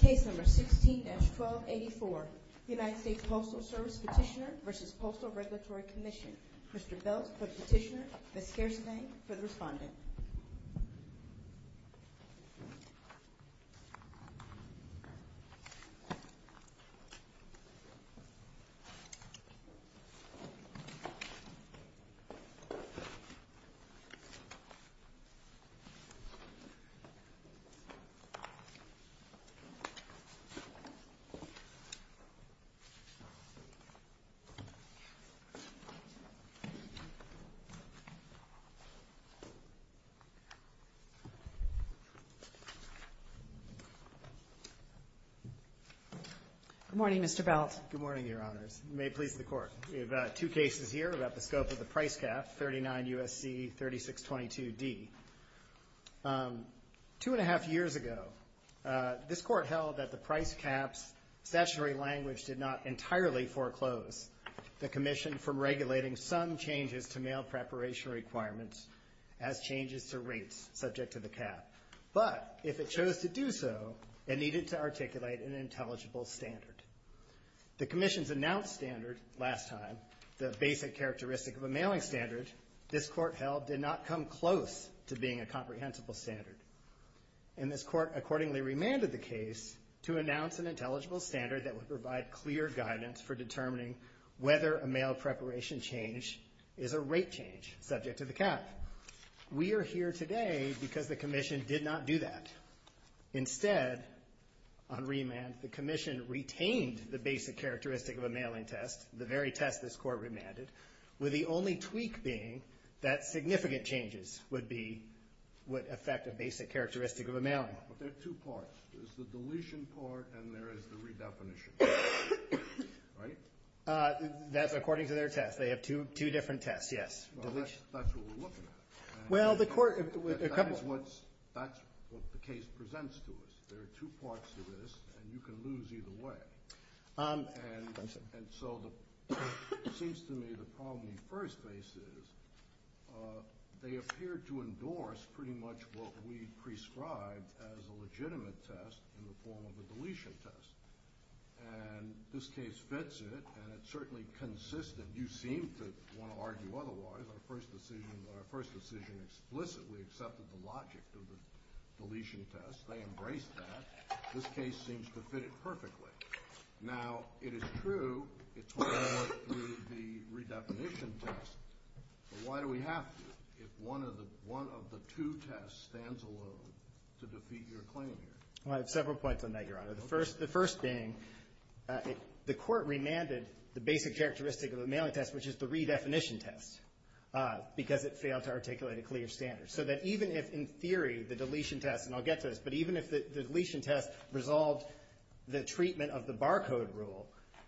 Case No. 16-1284, U.S. Postal Service Petitioner v. Postal Regulatory Commission. Mr. Belk, Petitioner, and Fairfax for responding. Good morning, Mr. Belk. Good morning, Your Honors. You may please record. We have two cases here about the scope of the price cap, 39 U.S.C. 3622D. Two and a half years ago, this Court held that the price cap's statutory language did not entirely foreclose the Commission from regulating some changes to mail preparation requirements as changes to rates subject to the cap. But if it chose to do so, it needed to articulate an intelligible standard. The basic characteristic of a mailing standard, this Court held, did not come close to being a comprehensible standard. And this Court accordingly remanded the case to announce an intelligible standard that would provide clear guidance for determining whether a mail preparation change is a rate change subject to the cap. We are here today because the Commission did not do that. Instead, on remand, the Commission retained the basic characteristic of a mailing test, the very test this Court remanded, with the only tweak being that significant changes would affect the basic characteristic of a mailing. But there are two parts. There's the deletion part, and there is the redefinition part, right? That's according to their test. They have two different tests, yes. Well, that's what we're looking at. Well, the Court That's what the case presents to us. There are two parts to this, and you can lose either way. And so it seems to me the problem we first face is they appear to endorse pretty much what we prescribe as a legitimate test in the form of a deletion test. And this case fits it, and it certainly consists that you seem to want to argue otherwise. Our first decision explicitly accepted the logic of the deletion test. They embraced that. This case seems to fit it perfectly. Now, it is true it's one of the redefinition tests. But why do we have to if one of the two tests stands alone to defeat your claim here? Well, I have several points on that, Your Honor. The first thing, the Court remanded the basic characteristic of the mailing test, which is the redefinition test, because it fails to articulate a clear standard. So that even if, in theory, the deletion test, and I'll get to this, but even if the deletion test resolves the treatment of the barcode rule,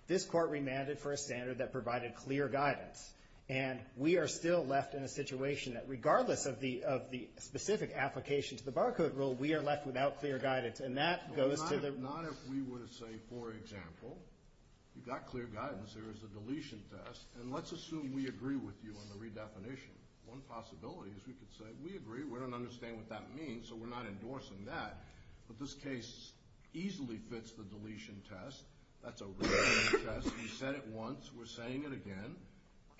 this Court remanded for a standard that provided clear guidance. And we are still left in a situation that regardless of the specific application to the barcode rule, we are left without clear guidance. And that goes to the But not if we were to say, for example, you've got clear guidance, there is a deletion test, and let's assume we agree with you on the redefinition. One possibility is we could say, we agree, we don't understand what that means, so we're not endorsing that. But this case easily fits the deletion test. That's a redefinition test. You said it once, we're saying it again,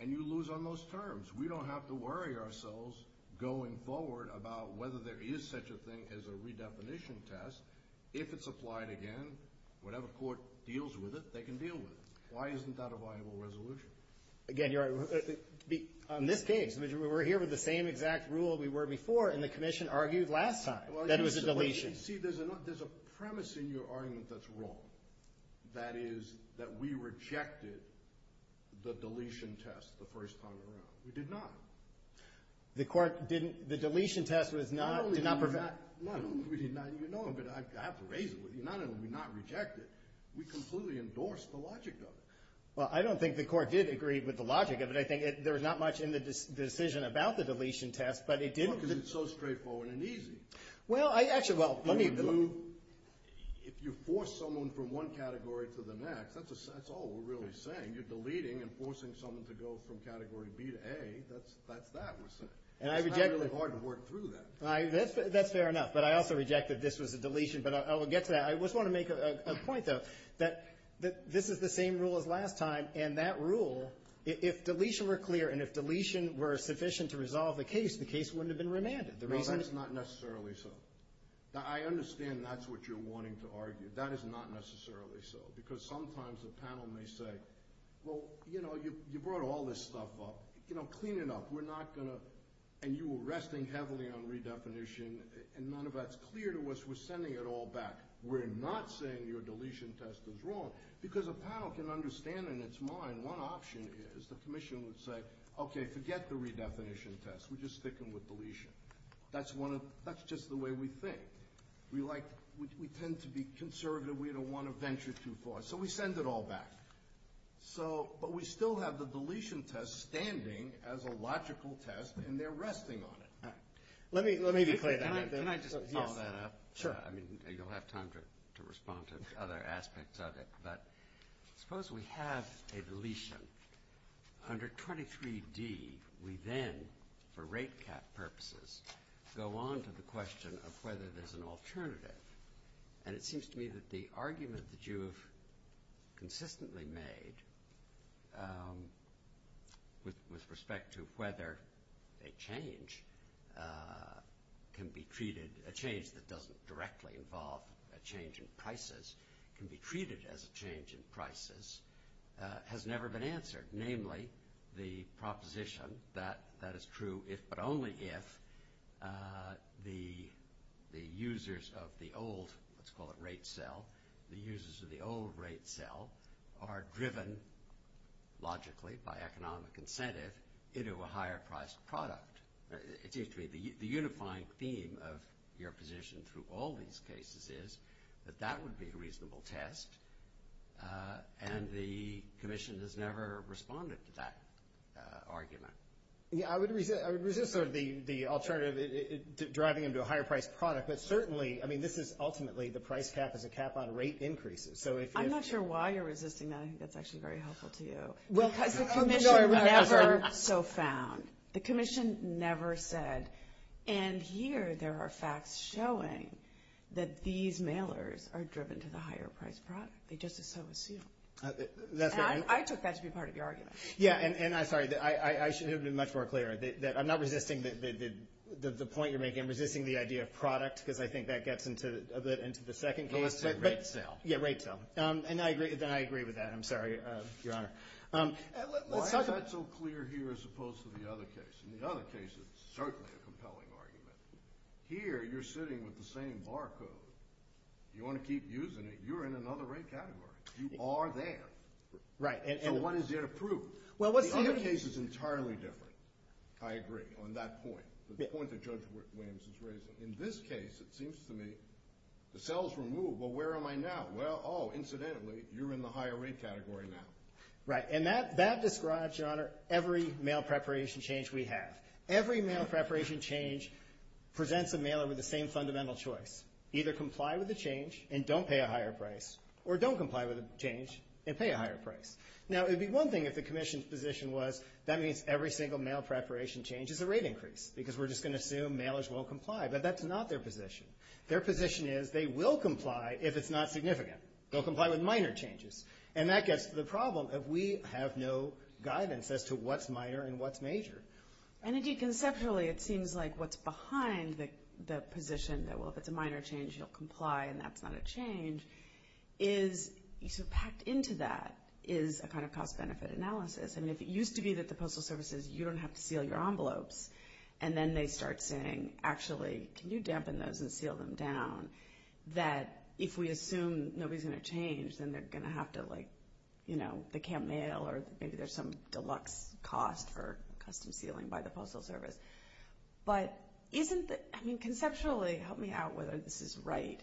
and you lose on those terms. We don't have to worry ourselves going forward about whether there is such a thing as a redefinition test. If it's applied again, whatever Court deals with it, they can deal with it. Why isn't that a viable resolution? Again, on this page, we're here with the same exact rule we were before, and the Commission argued last time. That was the deletion. See, there's a premise in your argument that's wrong. That is, that we rejected the deletion test the first time around. We did not. The Court didn't, the deletion test was not, did not provide... No, we did not, no, we did not, you know, but I have to raise it with you. Not only did we not reject it, we completely endorsed the logic of it. Well, I don't think the Court did agree with the logic of it. I think there's not much in the decision about the deletion test, but it did... Because it's so straightforward and easy. Well, I actually, well, let me... If you force someone from one category to the next, that's all we're really saying. If you're deleting and forcing someone to go from category B to A, that's, that's, that was... And I reject... It's kind of hard to work through that. That's fair enough, but I also reject that this was a deletion, but I'll get to that. I just want to make a point, though, that this is the same rule as last time, and that rule, if deletion were clear and if deletion were sufficient to resolve the case, the case wouldn't have been remanded. No, that's not necessarily so. I understand that's what you're wanting to argue. That is not necessarily so, because sometimes the panel may say, well, you know, you brought all this stuff up, you know, clean it up, we're not gonna... And you were resting heavily on redefinition, and none of that's clear to us, we're sending it all back. We're not saying your deletion test is wrong, because a panel can understand in its mind one option is the commission would say, okay, forget the redefinition test, we're just sticking with deletion. That's one of... That's just the way we think. We tend to be conservative, we don't want to venture too far, so we send it all back. So, but we still have the deletion test standing as a logical test, and they're resting on it. Let me... Can I just follow that up? Sure. I mean, you'll have time to respond to other aspects of it, but suppose we have a deletion. Under 23D, we then, for rate cap purposes, go on to the question of whether there's an alternative, and it seems to me that the argument that you've consistently made with respect to whether a change can be treated... A change that doesn't directly involve a change in prices can be treated as a change in prices has never been answered. Namely, the proposition that that is true if but only if the users of the old, let's call it rate cell, the users of the old rate cell are driven logically by economic incentive into a higher priced product. It seems to me the unifying theme of your position through all these cases is that that doesn't seem to be a reasonable test, and the commission has never responded to that argument. Yeah, I would resist sort of the alternative, driving them to a higher priced product, but certainly, I mean, this is ultimately the price cap of the cap on rate increases, so if it's... I'm not sure why you're resisting that. I think that's actually very helpful to you. Well, the commission never so found. The commission never said. And here, there are facts showing that these mailers are driven to the higher priced product. They just as so assumed. I took that to be part of the argument. Yeah, and I'm sorry. I should have been much more clear. I'm not resisting the point you're making. I'm resisting the idea of product because I think that gets into the second case. So it's a rate cell. Yeah, rate cell. And I agree with that. I'm sorry, Your Honor. Why is that so clear here as opposed to the other case? In the other case, it's certainly a compelling argument. Here, you're sitting with the same barcode. You want to keep using it, you're in another rate category. You are there. Right. So one is yet approved. The other case is entirely different. I agree on that point. The point that Judge Williams is raising. In this case, it seems to me, the cell's removed, but where am I now? Well, oh, incidentally, you're in the higher rate category now. Right. And that describes, Your Honor, every mail preparation change we have. Every mail preparation change presents the mailer with the same fundamental choice. Either comply with the change and don't pay a higher price, or don't comply with the change and pay a higher price. Now, it would be one thing if the commission's position was, that means every single mail preparation change is a rate increase because we're just going to assume mailers will comply. But that's not their position. Their position is they will comply if it's not significant. They'll comply with minor changes. And that gets to the problem, that we have no guidance as to what's minor and what's major. And, indeed, conceptually, it seems like what's behind the position that, well, if it's a minor change, you'll comply and that's not a change, is packed into that is a kind of cost-benefit analysis. And if it used to be that the Postal Service says, you don't have to seal your envelopes, and then they start saying, actually, can you dampen those and seal them down, that if we assume nobody's going to change, then they're going to have to, like, you know, they can't mail or maybe there's some deluxe cost or custom sealing by the Postal Service. But isn't the – I mean, conceptually, help me out whether this is right.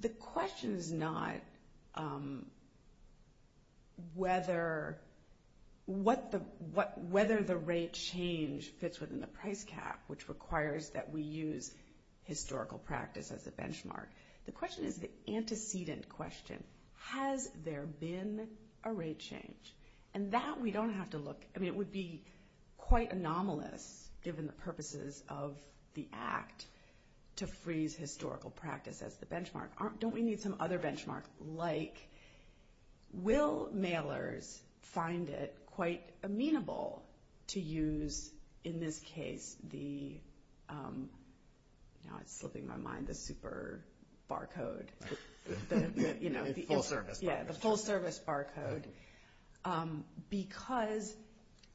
The question is not whether the rate change fits within the price cap, which requires that we use historical practice as a benchmark. The question is the antecedent question. Has there been a rate change? And that we don't have to look – I mean, it would be quite anomalous, given the purposes of the Act, to freeze historical practice as the benchmark. Don't we need some other benchmark? Like, will mailers find it quite amenable to use, in this case, the – barcode, you know. The full-service barcode. Yeah, the full-service barcode. Because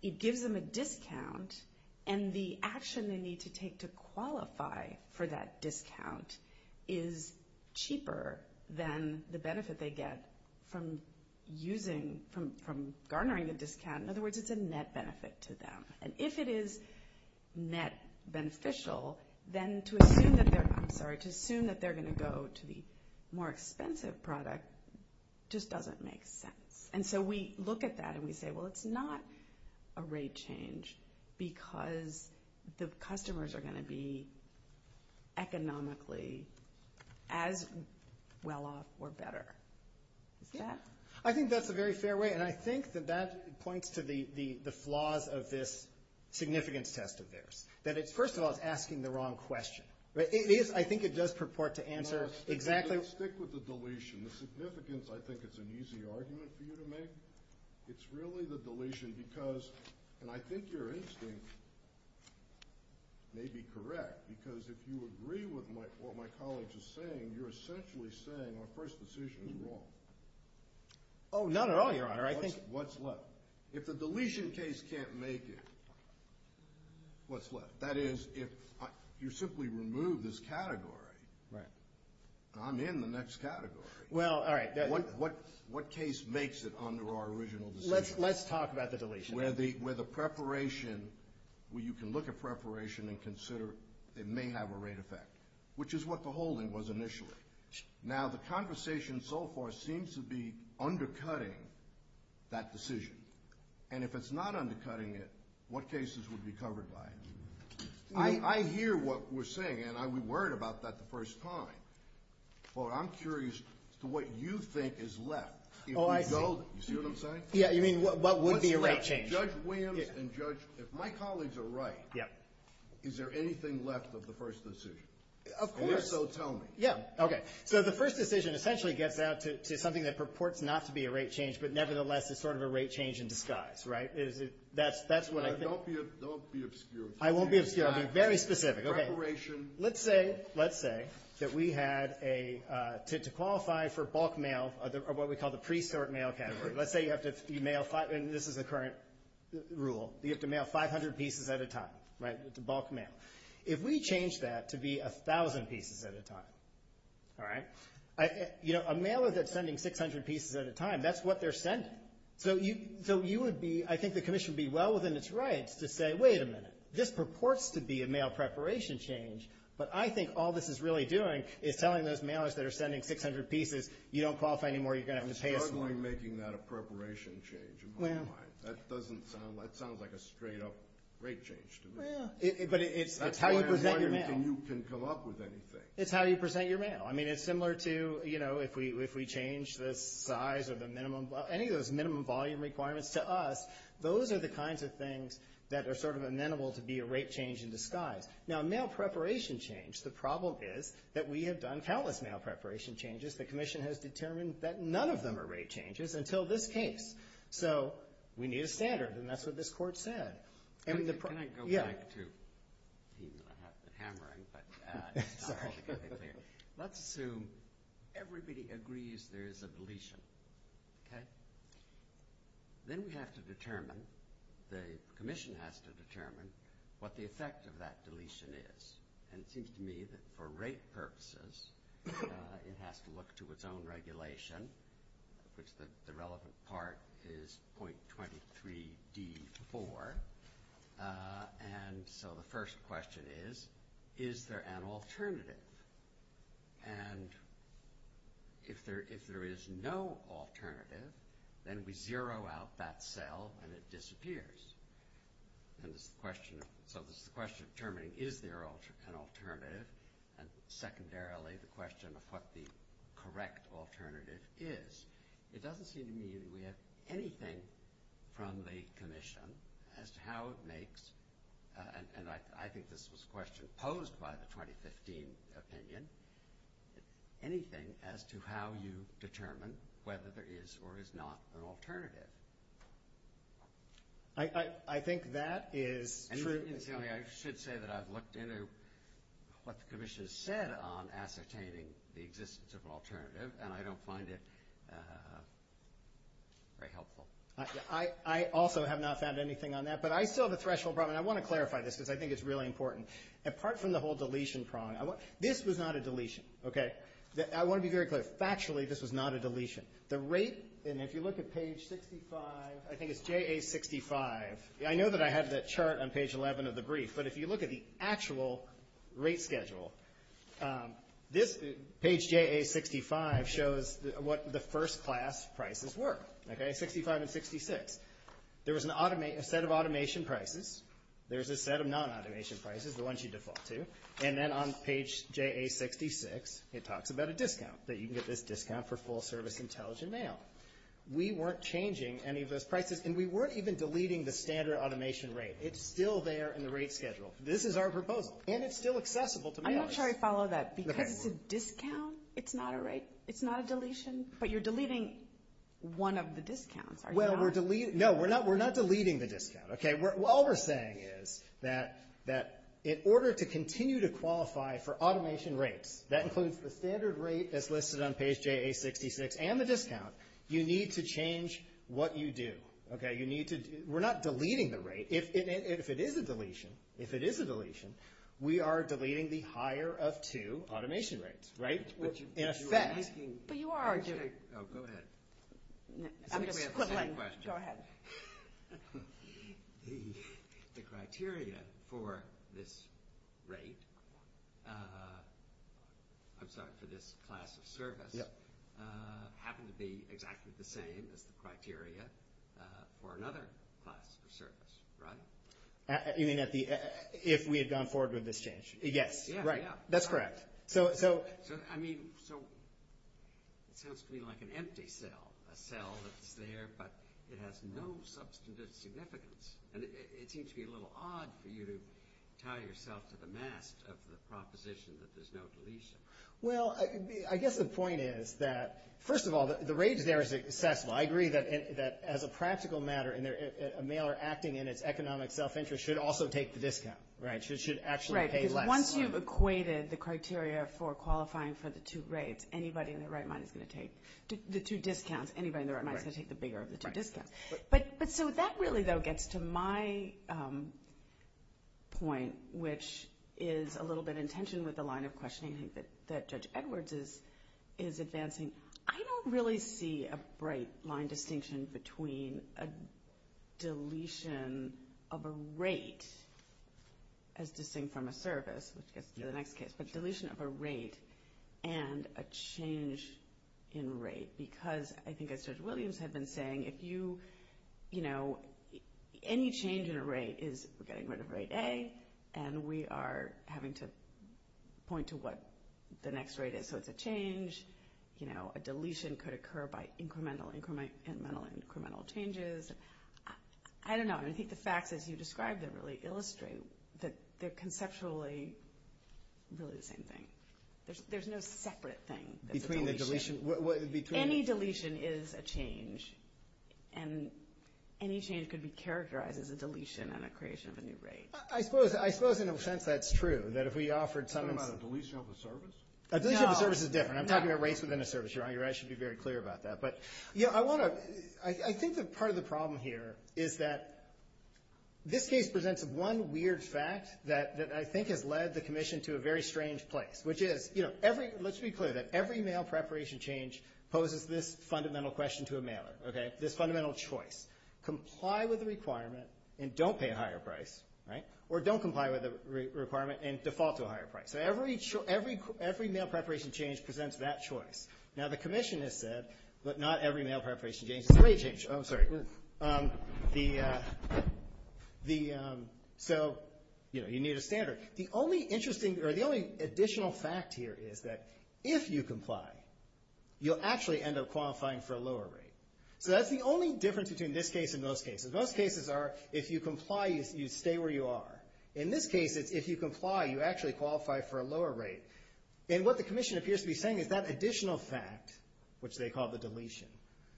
it gives them a discount, and the action they need to take to qualify for that discount is cheaper than the benefit they get from using – from garnering the discount. In other words, it's a net benefit to them. And if it is net beneficial, then to assume that they're – they're going to go to the more expensive product just doesn't make sense. And so we look at that and we say, well, it's not a rate change because the customers are going to be economically as well off or better. Yeah? I think that's a very fair way, and I think that that points to the flaws of this significance test of theirs. That it, first of all, is asking the wrong question. It is. I think it does purport to answer exactly – Stick with the deletion. The significance, I think, is an easy argument for you to make. It's really the deletion because – and I think your instinct may be correct because if you agree with what my colleague is saying, you're essentially saying our first decision is wrong. Oh, not at all, Your Honor. I think – What's left? If the deletion case can't make it, what's left? That is, if you simply remove this category, I'm in the next category. Well, all right. What case makes it under our original decision? Let's talk about the deletion. Where the preparation – where you can look at preparation and consider it may have a rate effect, which is what the holding was initially. Now, the conversation so far seems to be undercutting that decision. And if it's not undercutting it, what cases would be covered by it? I hear what we're saying, and I'm worried about that the first time, but I'm curious as to what you think is left. If we go – you see what I'm saying? Yeah, you mean what would be a rate change? Judge Williams and Judge – if my colleagues are right, is there anything left of the first decision? Of course. If so, tell me. Yeah, okay. So the first decision essentially gets down to something that purports not to be a rate change, but nevertheless is sort of a rate change in disguise, right? That's what I think. Don't be obscure. I won't be obscure. I'll be very specific. Okay. Preparation. Let's say that we had a – to qualify for bulk mail, what we call the pre-cert mail category. Let's say you have to mail – and this is the current rule. You have to mail 500 pieces at a time, right, bulk mail. If we change that to be 1,000 pieces at a time, all right, a mailer that's sending 600 pieces at a time, that's what they're sending. So you would be – I think the commission would be well within its rights to say, wait a minute, this purports to be a mail preparation change, but I think all this is really doing is telling those mailers that are sending 600 pieces, you don't qualify anymore, you're going to have to pay us more. I'm struggling making that a preparation change in my mind. That doesn't sound – that sounds like a straight-up rate change to me. But it's how you present your mail. That's why I'm saying you can come up with anything. It's how you present your mail. I mean, it's similar to, you know, if we change the size of the minimum – any of those minimum volume requirements to us, those are the kinds of things that are sort of amenable to be a rate change in disguise. Now, mail preparation change, the problem is that we have done countless mail preparation changes. The commission has determined that none of them are rate changes until this case. So we need a standard, and that's what this court said. Can I go back to – I'm not hammering, but let's assume everybody agrees there's a deletion. Then we have to determine – the commission has to determine what the effect of that deletion is. And it seems to me that for rate purposes, it has to look to its own regulation, which the relevant part is 0.23d4. And so the first question is, is there an alternative? And if there is no alternative, then we zero out that cell and it disappears. So this is the question of determining is there an alternative. And secondarily, the question of what the correct alternative is. It doesn't seem to me that we have anything from the commission as to how it makes – and I think this was a question posed by the 2015 opinion – anything as to how you determine whether there is or is not an alternative. I think that is true. I should say that I've looked into what the commission has said on ascertaining the existence of an alternative, and I don't find it very helpful. I also have not found anything on that, but I feel the threshold problem – and I want to clarify this because I think it's really important. Apart from the whole deletion problem – this was not a deletion, okay? I want to be very clear. Factually, this was not a deletion. The rate – and if you look at page 65 – I think it's JA65. I know that I have that chart on page 11 of the brief, but if you look at the actual rate schedule, this – page JA65 shows what the first class prices were, okay? 65 and 66. There was an – a set of automation prices. There's a set of non-automation prices, the ones you default to. And then on page JA66, it talks about a discount, that you can get this discount for full-service intelligent mail. We weren't changing any of those prices, and we weren't even deleting the standard automation rate. It's still there in the rate schedule. This is our proposal, and it's still accessible to mailers. I'm not sure I follow that because it's a discount. It's not a rate. It's not a deletion. But you're deleting one of the discounts, are you not? Well, we're – no, we're not deleting the discount, okay? All we're saying is that in order to continue to qualify for automation rates, that includes the standard rate that's listed on page JA66 and the discount, you need to change what you do, okay? You need to – we're not deleting the rate. If it is a deletion, if it is a deletion, we are deleting the higher-of-two automation rates, right? Which in effect – But you are doing – Oh, go ahead. I'm just – Go ahead. The criteria for this rate – I'm sorry, for this class of service happens to be exactly the same as the criteria for another class of service, right? You mean at the – if we had gone forward with this change? Yes, right. That's correct. So – A cell that's there, but it has no substantive significance. And it seems to be a little odd for you to tie yourself to the mask of the proposition that there's no deletion. Well, I guess the point is that, first of all, the rate there is accessible. I agree that as a practical matter, a mailer acting in its economic self-interest should also take the discount, right? It should actually pay less. Right, because once you've equated the criteria for qualifying for the two rates, anybody in their right mind is going to take – The two discounts. Anybody in their right mind is going to take the bigger of the two discounts. But so that really, though, gets to my point, which is a little bit in tension with the line of questioning that Judge Edwards is advancing. I don't really see a bright line distinction between a deletion of a rate, as distinct from a service – let's get to the next case – but deletion of a rate and a change in rate. Because I think as Judge Williams had been saying, if you – you know, any change in a rate is getting rid of rate A, and we are having to point to what the next rate is. So it's a change. You know, a deletion could occur by incremental, incremental, incremental changes. I don't know. I think the facts, as you described them, really illustrate that they're conceptually really the same thing. There's no separate thing. Between the deletion – between – Any deletion is a change, and any change could be characterized as a deletion and a creation of a new rate. I suppose in a sense that's true, that if we offered some – You're talking about a deletion of a service? A deletion of a service is different. I'm talking about rates within a service. Your Honor, I should be very clear about that. But, you know, I want to – I think that part of the problem here is that this case presents one weird fact that I think has led the commission to a very strange place, which is, you know, every – let's be clear that every mail preparation change poses this fundamental question to a mailer, okay, this fundamental choice. Comply with the requirement and don't pay a higher price, right, or don't comply with the requirement and default to a higher price. So every mail preparation change presents that choice. Now, the commission has said, but not every mail preparation change – rate change, oh, sorry. The – so, you know, you need a standard. The only interesting – or the only additional fact here is that if you comply, you'll actually end up qualifying for a lower rate. So that's the only difference between this case and those cases. Those cases are if you comply, you stay where you are. In this case, if you comply, you actually qualify for a lower rate. And what the commission appears to be saying is that additional fact, which they call the deletion,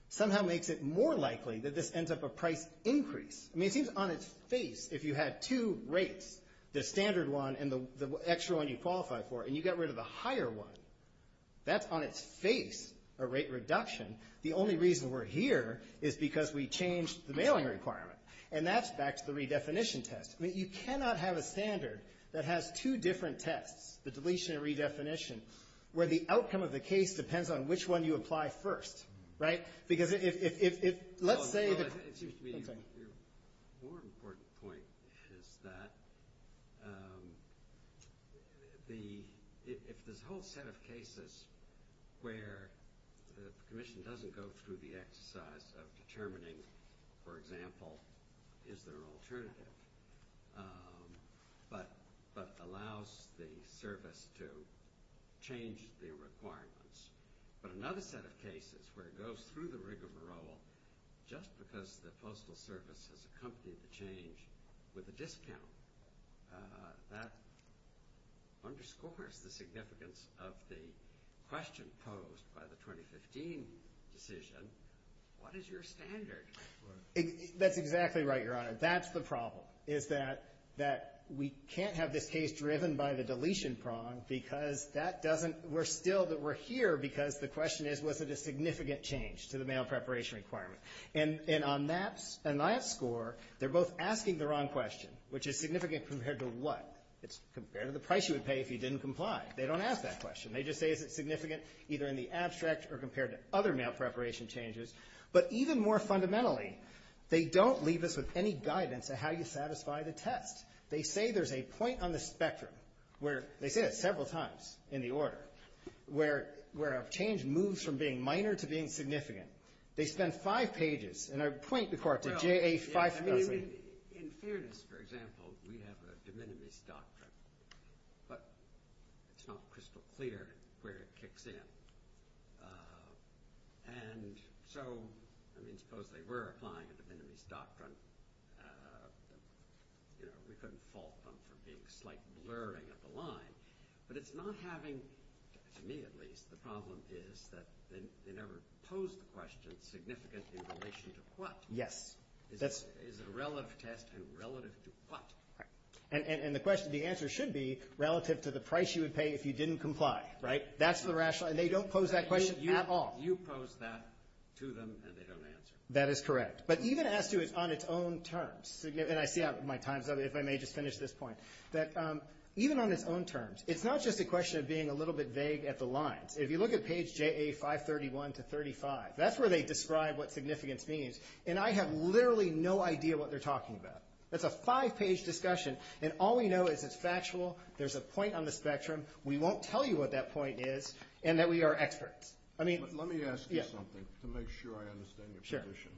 somehow makes it more likely that this ends up a price increase. I mean, it seems on its face, if you had two rates, the standard one and the extra one you qualify for, and you get rid of a higher one, that's on its face a rate reduction. The only reason we're here is because we changed the mailing requirement. And that's back to the redefinition test. I mean, you cannot have a standard that has two different tests, the deletion and redefinition, where the outcome of the case depends on which one you apply first. Right? More important point is that if this whole set of cases where the commission doesn't go through the exercise of determining, for example, is there an alternative, but allows the service to change their requirements, but another set of cases where it goes through the rigmarole just because the postal service has accompanied the change with a discount, that underscores the significance of the question posed by the 2015 decision, what is your standard? That's exactly right, Your Honor. That's the problem, is that we can't have this case driven by the deletion prong because that doesn't – we're still – we're here because the question is, was it a significant change to the mail preparation requirement? And on that score, they're both asking the wrong question, which is significant compared to what? It's compared to the price you would pay if you didn't comply. They don't ask that question. They just say is it significant either in the abstract or compared to other mail preparation changes. But even more fundamentally, they don't leave us with any guidance on how you satisfy the test. They say there's a point on the spectrum where – they say that several times in the order – where a change moves from being minor to being significant. They spend five pages, and I point the court to J.A. – In fairness, for example, we have a de minimis doctrine, but it's not crystal clear where it kicks in. And so, I mean, suppose they were applying a de minimis doctrine. We couldn't fault them for being slightly blurring the line. But it's not having – to me, at least – the problem is that they never pose the question significantly in relation to what? Yes. Is it relative to – relative to what? And the question – the answer should be relative to the price you would pay if you didn't comply, right? That's the rational – and they don't pose that question at all. You pose that to them, and they don't answer. That is correct. But even as to on its own terms – and I see my time's up. If I may just finish this point. That even on its own terms, it's not just a question of being a little bit vague at the lines. If you look at page JA 531 to 35, that's where they describe what significance means. And I have literally no idea what they're talking about. It's a five-page discussion, and all we know is it's factual. There's a point on the spectrum. We won't tell you what that point is and that we are experts. I mean – Let me ask you something to make sure I understand your position.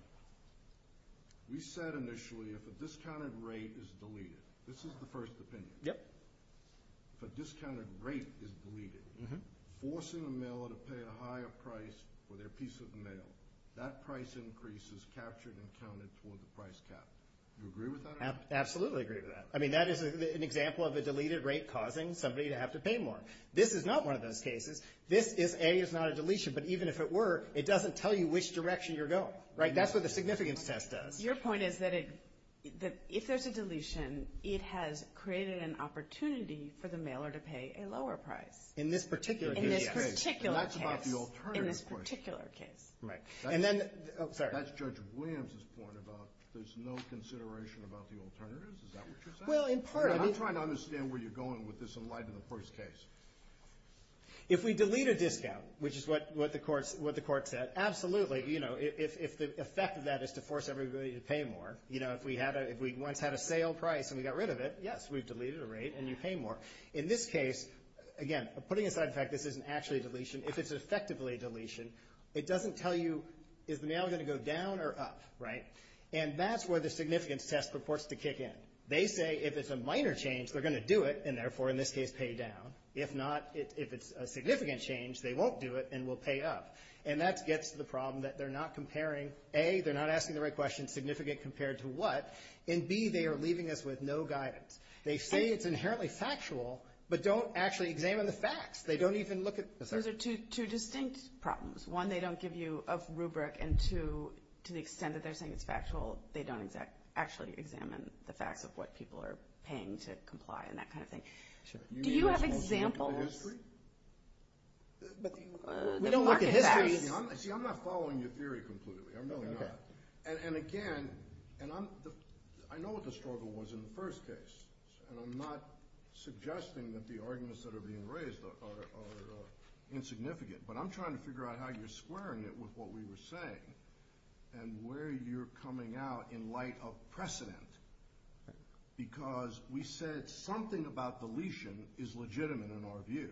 Sure. You said initially if a discounted rate is deleted. This is the first opinion. Yep. If a discounted rate is deleted, forcing a mailer to pay a higher price for their piece of mail, that price increase is captured and counted toward the price cap. Do you agree with that? I absolutely agree with that. I mean, that is an example of a deleted rate causing somebody to have to pay more. This is not one of those cases. This, if A, is not a deletion, but even if it were, it doesn't tell you which direction you're going. Right? That's what the significance test does. Your point is that if there's a deletion, it has created an opportunity for the mailer to pay a lower price. In this particular case. In this particular case. That's not the alternative. In this particular case. Right. And then – oh, sorry. That's Judge Williams' point about there's no consideration about the alternatives. Is that what you're saying? Well, in part – I'm trying to understand where you're going with this in light of the first case. If we delete a discount, which is what the court said, absolutely. You know, if the effect of that is to force everybody to pay more. You know, if we once had a sale price and we got rid of it, yes, we've deleted a rate and you pay more. In this case, again, putting aside the fact this isn't actually a deletion, if it's effectively a deletion, it doesn't tell you is mail going to go down or up. Right? And that's where the significance test purports to kick in. They say if it's a minor change, they're going to do it and, therefore, in this case, pay down. If not, if it's a significant change, they won't do it and will pay up. And that gets to the problem that they're not comparing, A, they're not asking the right question, significant compared to what, and, B, they are leaving us with no guidance. They say it's inherently factual but don't actually examine the facts. They don't even look at the facts. Those are two distinct problems. One, they don't give you a rubric, and, two, to the extent that they're saying it's factual, they don't actually examine the fact of what people are paying to comply and that kind of thing. Do you have examples? Historical history? We don't work in history. See, I'm not following your theory completely. I'm really not. And, again, I know what the struggle was in the first case, and I'm not suggesting that the arguments that are being raised are insignificant, but I'm trying to figure out how you're squaring it with what we were saying and where you're coming out in light of precedent because we said something about deletion is legitimate in our view.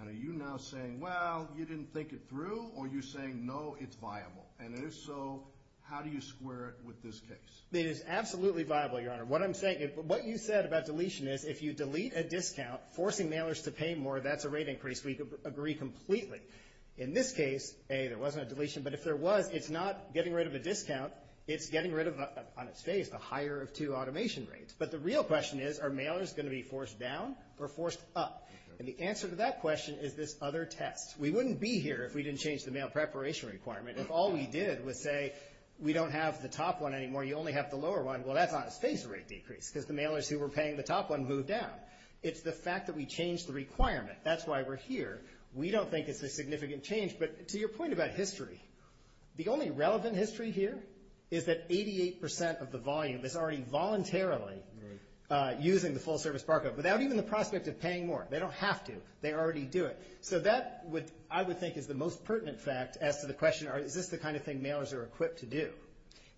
Now, are you now saying, well, you didn't think it through, or are you saying, no, it's viable? And if so, how do you square it with this case? It is absolutely viable, Your Honor. What I'm saying is what you said about deletion is if you delete a discount, forcing mailers to pay more, that's a rate increase. We agree completely. In this case, A, there wasn't a deletion, but if there was, it's not getting rid of a discount. It's getting rid of, I would say, the higher of two automation rates. But the real question is, are mailers going to be forced down or forced up? And the answer to that question is this other text. We wouldn't be here if we didn't change the mail preparation requirement. If all we did was say we don't have the top one anymore, you only have the lower one, well, that's not a stationary decrease because the mailers who were paying the top one moved down. It's the fact that we changed the requirement. That's why we're here. We don't think it's a significant change. But to your point about history, the only relevant history here is that 88% of the volume is already voluntarily using the full-service barcode without even the prospect of paying more. They don't have to. They already do it. So that, I would think, is the most pertinent fact as to the question, is this the kind of thing mailers are equipped to do?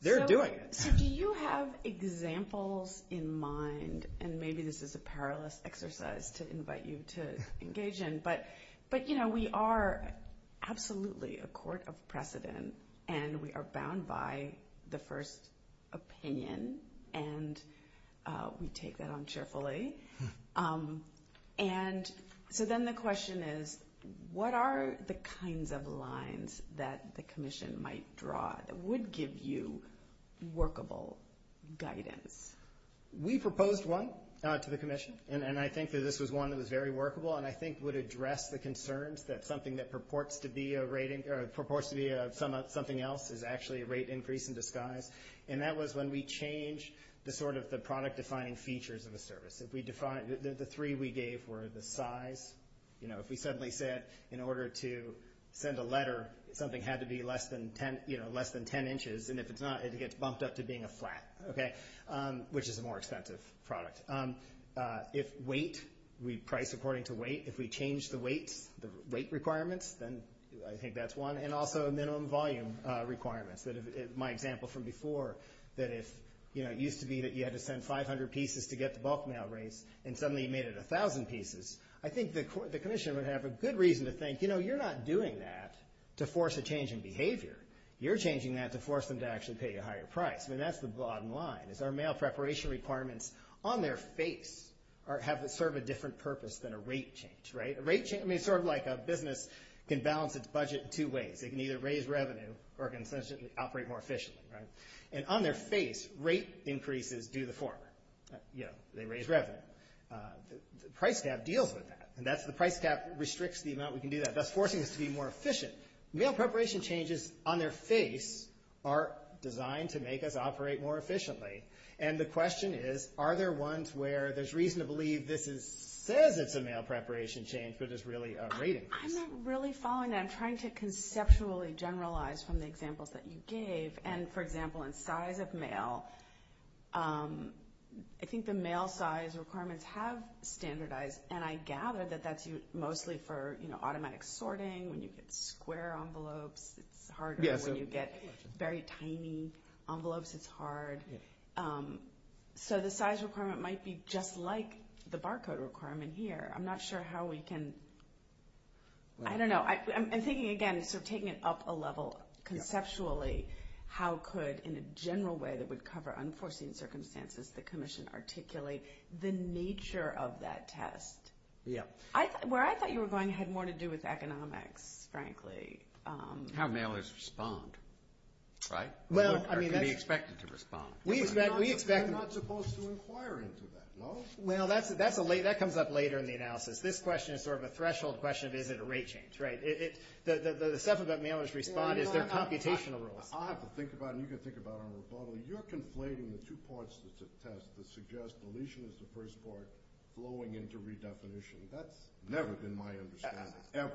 They're doing it. Do you have examples in mind, and maybe this is a powerless exercise to invite you to engage in, but, you know, we are absolutely a court of precedent, and we are bound by the first opinion, and we take that on cheerfully. And so then the question is, what are the kinds of lines that the commission might draw that would give you workable guidance? We proposed one to the commission, and I think that this was one that was very workable and I think would address the concerns that something that purports to be a rating or purports to be something else is actually a rate increase in disguise. And that was when we changed the sort of the product-defining features of a service. If we define it, the three we gave were the size. You know, if we suddenly said in order to send a letter, something had to be less than 10 inches, and if it's not, it gets bumped up to being a flat, okay, which is a more expensive product. If weight, we price according to weight, if we change the weight requirements, then I think that's one, and also minimum volume requirements. My example from before, that is, you know, it used to be that you had to send 500 pieces to get the bulk mail rate, and suddenly you made it 1,000 pieces. I think the commission would have a good reason to think, you know, you're not doing that to force a change in behavior. You're changing that to force them to actually pay a higher price, and that's the bottom line. If our mail preparation requirements on their face serve a different purpose than a rate change, right? A rate change, I mean, sort of like a business can balance its budget in two ways. They can either raise revenue or consistently operate more efficiently, right? And on their face, rate increases do the former. You know, they raise revenue. The price cap deals with that, and the price cap restricts the amount we can do that, thus forcing us to be more efficient. Mail preparation changes on their face are designed to make us operate more efficiently, and the question is, are there ones where there's reason to believe this says it's a mail preparation change, but it's really a rating? I'm not really following that. I'm trying to conceptually generalize from the examples that you gave. And, for example, in size of mail, I think the mail size requirements have standardized, and I gather that that's mostly for, you know, automatic sorting. When you get square envelopes, it's harder. When you get very tiny envelopes, it's hard. So the size requirement might be just like the barcode requirement here. I'm not sure how we can – I don't know. I'm thinking, again, sort of taking it up a level conceptually, how could, in a general way that would cover unforeseen circumstances, the commission articulate the nature of that test? Yeah. Where I thought you were going had more to do with economics, frankly. How mailers respond, right? We expect them to respond. I'm not supposed to inquire into that. Well, that comes up later in the analysis. This question is sort of a threshold question. Is it a rate change, right? The stuff about mailers' response is the computational rule. I can think about it, and you can think about it. You're complaining that two parts of the test that suggest deletion is the first part, blowing into redefinition. That's never been my understanding, ever.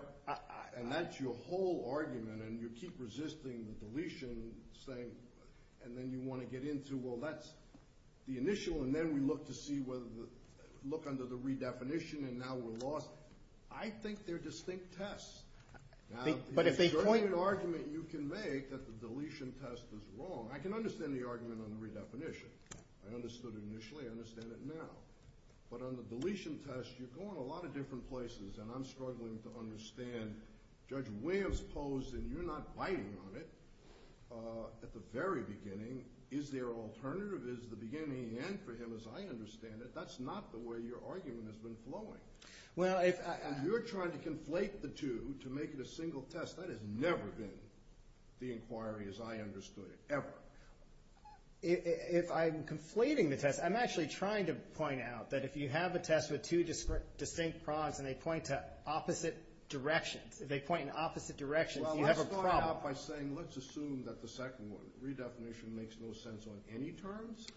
And that's your whole argument, and you keep resisting deletion, saying – and then you want to get into, well, that's the initial, and then we look to see whether – look under the redefinition, and now we're lost. I think they're distinct tests. But if they point – You're making an argument you convey that the deletion test was wrong. I can understand the argument on the redefinition. I understood it initially. I understand it now. But on the deletion test, you're going a lot of different places, and I'm struggling to understand Judge Williams' pose that you're not biting on it at the very beginning. Is there an alternative? Is the beginning and end for him as I understand it? That's not the way your argument has been flowing. You're trying to conflate the two to make it a single test. That has never been the inquiry as I understood it, ever. If I'm conflating the test, I'm actually trying to point out that if you have a test with two distinct problems and they point to opposite directions, if they point in opposite directions, you have a problem. Well, let's start out by saying let's assume that the second one, redefinition makes no sense on any terms,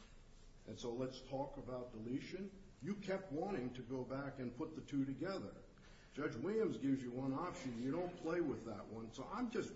and so let's talk about deletion. You kept wanting to go back and put the two together. Judge Williams gives you one option. You don't play with that one. So I'm just,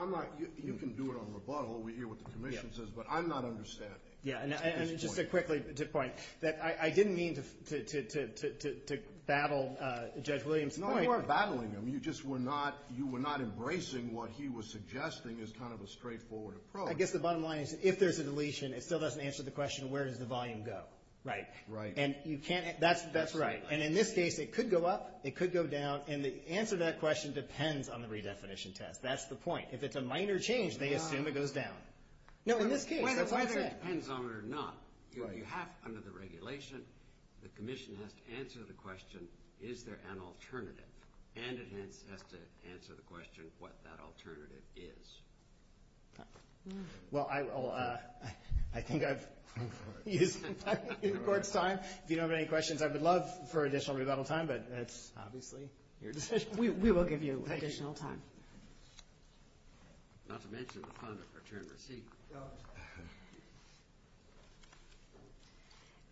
I'm not, you can do it on rebuttal. We hear what the commission says, but I'm not understanding. Yeah, and just a quick point. I didn't mean to battle Judge Williams' point. No, you weren't battling him. You just were not, you were not embracing what he was suggesting as kind of a straightforward approach. I guess the bottom line is if there's a deletion, it still doesn't answer the question, where does the volume go? Right. Right. And you can't, that's right. And in this case, it could go up, it could go down, and the answer to that question depends on the redefinition test. That's the point. If it's a minor change, they assume it goes down. No, in this case. It depends on whether or not you have, under the regulation, the commission has to answer the question, is there an alternative? And it has to answer the question what that alternative is. Well, I think I've used up the Court's time. If you have any questions, I would love for additional rebuttal time, but that's obviously your decision. We will give you additional time.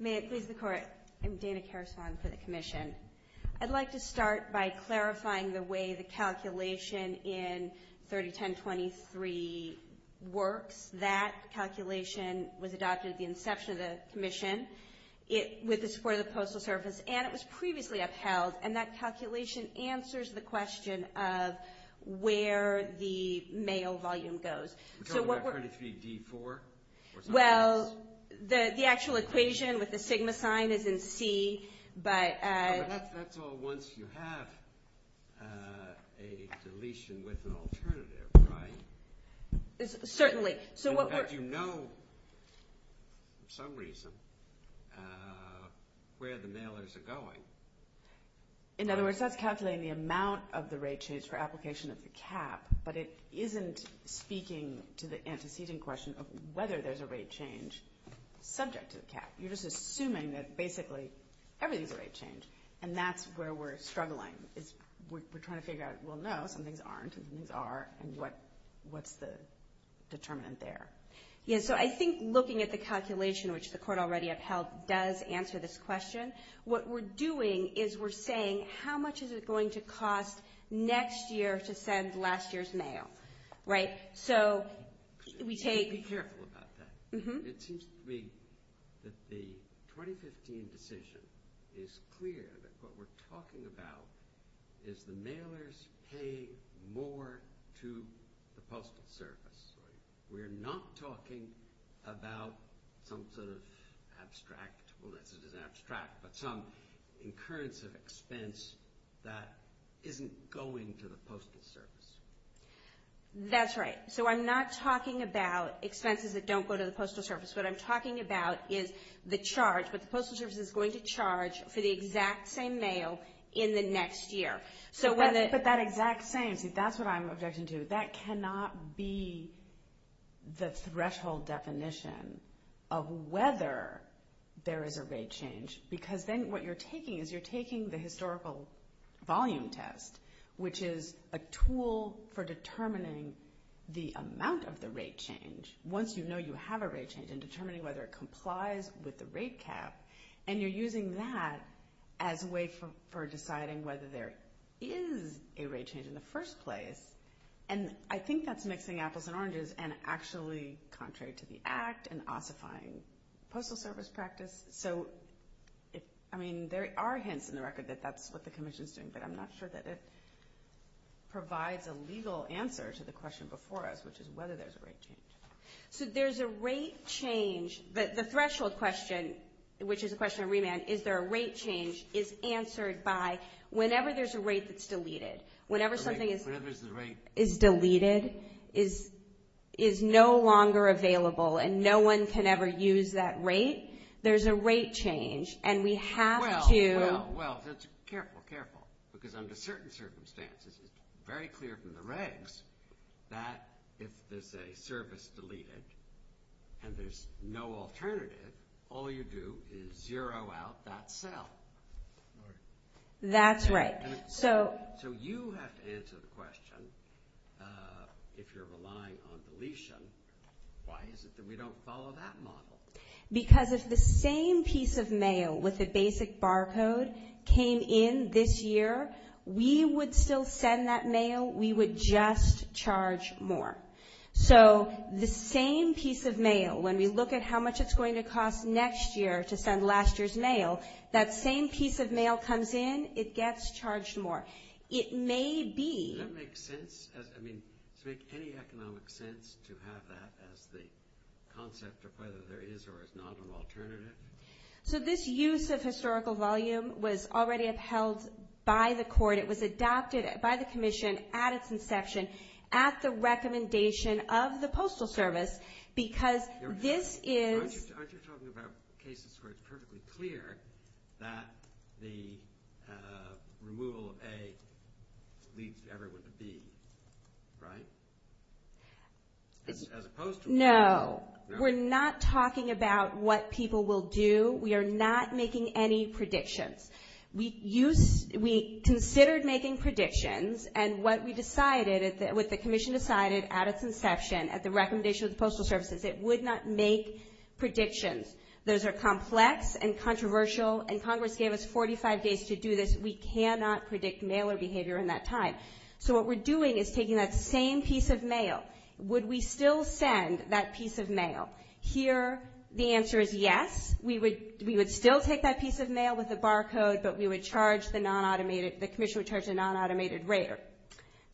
May it please the Court. I'm Dana Karasam for the commission. I'd like to start by clarifying the way the calculation in 301023 works. That calculation was adopted at the inception of the commission. It was for the postal service, and it was previously upheld, and that calculation answers the question of where the mail volume goes. I heard it to be D4. Well, the actual equation with the sigma sign is in C. That's all once you have a deletion with an alternative, right? Certainly. In fact, you know for some reason where the mail isn't going. In other words, that's calculating the amount of the rate change for application of the cap, but it isn't speaking to the antecedent question of whether there's a rate change subject to the cap. You're just assuming that basically everything's a rate change, and that's where we're struggling. We're trying to figure out, well, no, some things are and some things aren't, and what's the determinant there? Yeah, so I think looking at the calculation, which the Court already upheld, does answer this question. What we're doing is we're saying how much is it going to cost next year to send last year's mail, right? So we can't be careful about that. It seems to me that the 2015 decision is clear that what we're talking about is the mailers pay more to the Postal Service. We're not talking about some sort of abstract, well, this is an abstract, but some incurrence of expense that isn't going to the Postal Service. That's right. So I'm not talking about expenses that don't go to the Postal Service. What I'm talking about is the charge that the Postal Service is going to charge for the exact same mail in the next year. So whether it's about exact same, see, that's what I'm objecting to. That cannot be the threshold definition of whether there is a rate change, because then what you're taking is you're taking the historical volume test, which is a tool for determining the amount of the rate change once you know you have a rate change and determining whether it complies with the rate cap, and you're using that as a way for deciding whether there is a rate change in the first place. And I think that's mixing apples and oranges and actually contrary to the Act and ossifying Postal Service practice. So, I mean, there are hints in the record that that's what the Commission is doing, but I'm not sure that it provides a legal answer to the question before us, which is whether there's a rate change. So there's a rate change, but the threshold question, which is a question of remand, is there a rate change, is answered by whenever there's a rate that's deleted. Whenever something is deleted, is no longer available, and no one can ever use that rate, there's a rate change, and we have to. Well, well, well, careful, careful, because under certain circumstances, it's very clear from the regs that if there's a service deleted and there's no alternative, all you do is zero out that cell. That's right. So you have to answer the question, if you're relying on deletion, why is it that we don't follow that model? Because if the same piece of mail with a basic barcode came in this year, we would still send that mail. We would just charge more. So the same piece of mail, when we look at how much it's going to cost next year to send last year's mail, that same piece of mail comes in, it gets charged more. Does it make sense? I mean, does it make any economic sense to have that as the concept of whether there is or is not an alternative? So this use of historical volume was already upheld by the court. It was adopted by the commission at its inception at the recommendation of the Postal Service, because this is – leaves everyone to be, right? As opposed to – No, we're not talking about what people will do. We are not making any predictions. We considered making predictions, and what we decided, what the commission decided at its inception, at the recommendation of the Postal Service, is it would not make predictions. Those are complex and controversial, and Congress gave us 45 days to do this. We cannot predict mailer behavior in that time. So what we're doing is taking that same piece of mail. Would we still send that piece of mail? Here, the answer is yes. We would still take that piece of mail with a barcode, but we would charge the non-automated – the commission would charge a non-automated rate.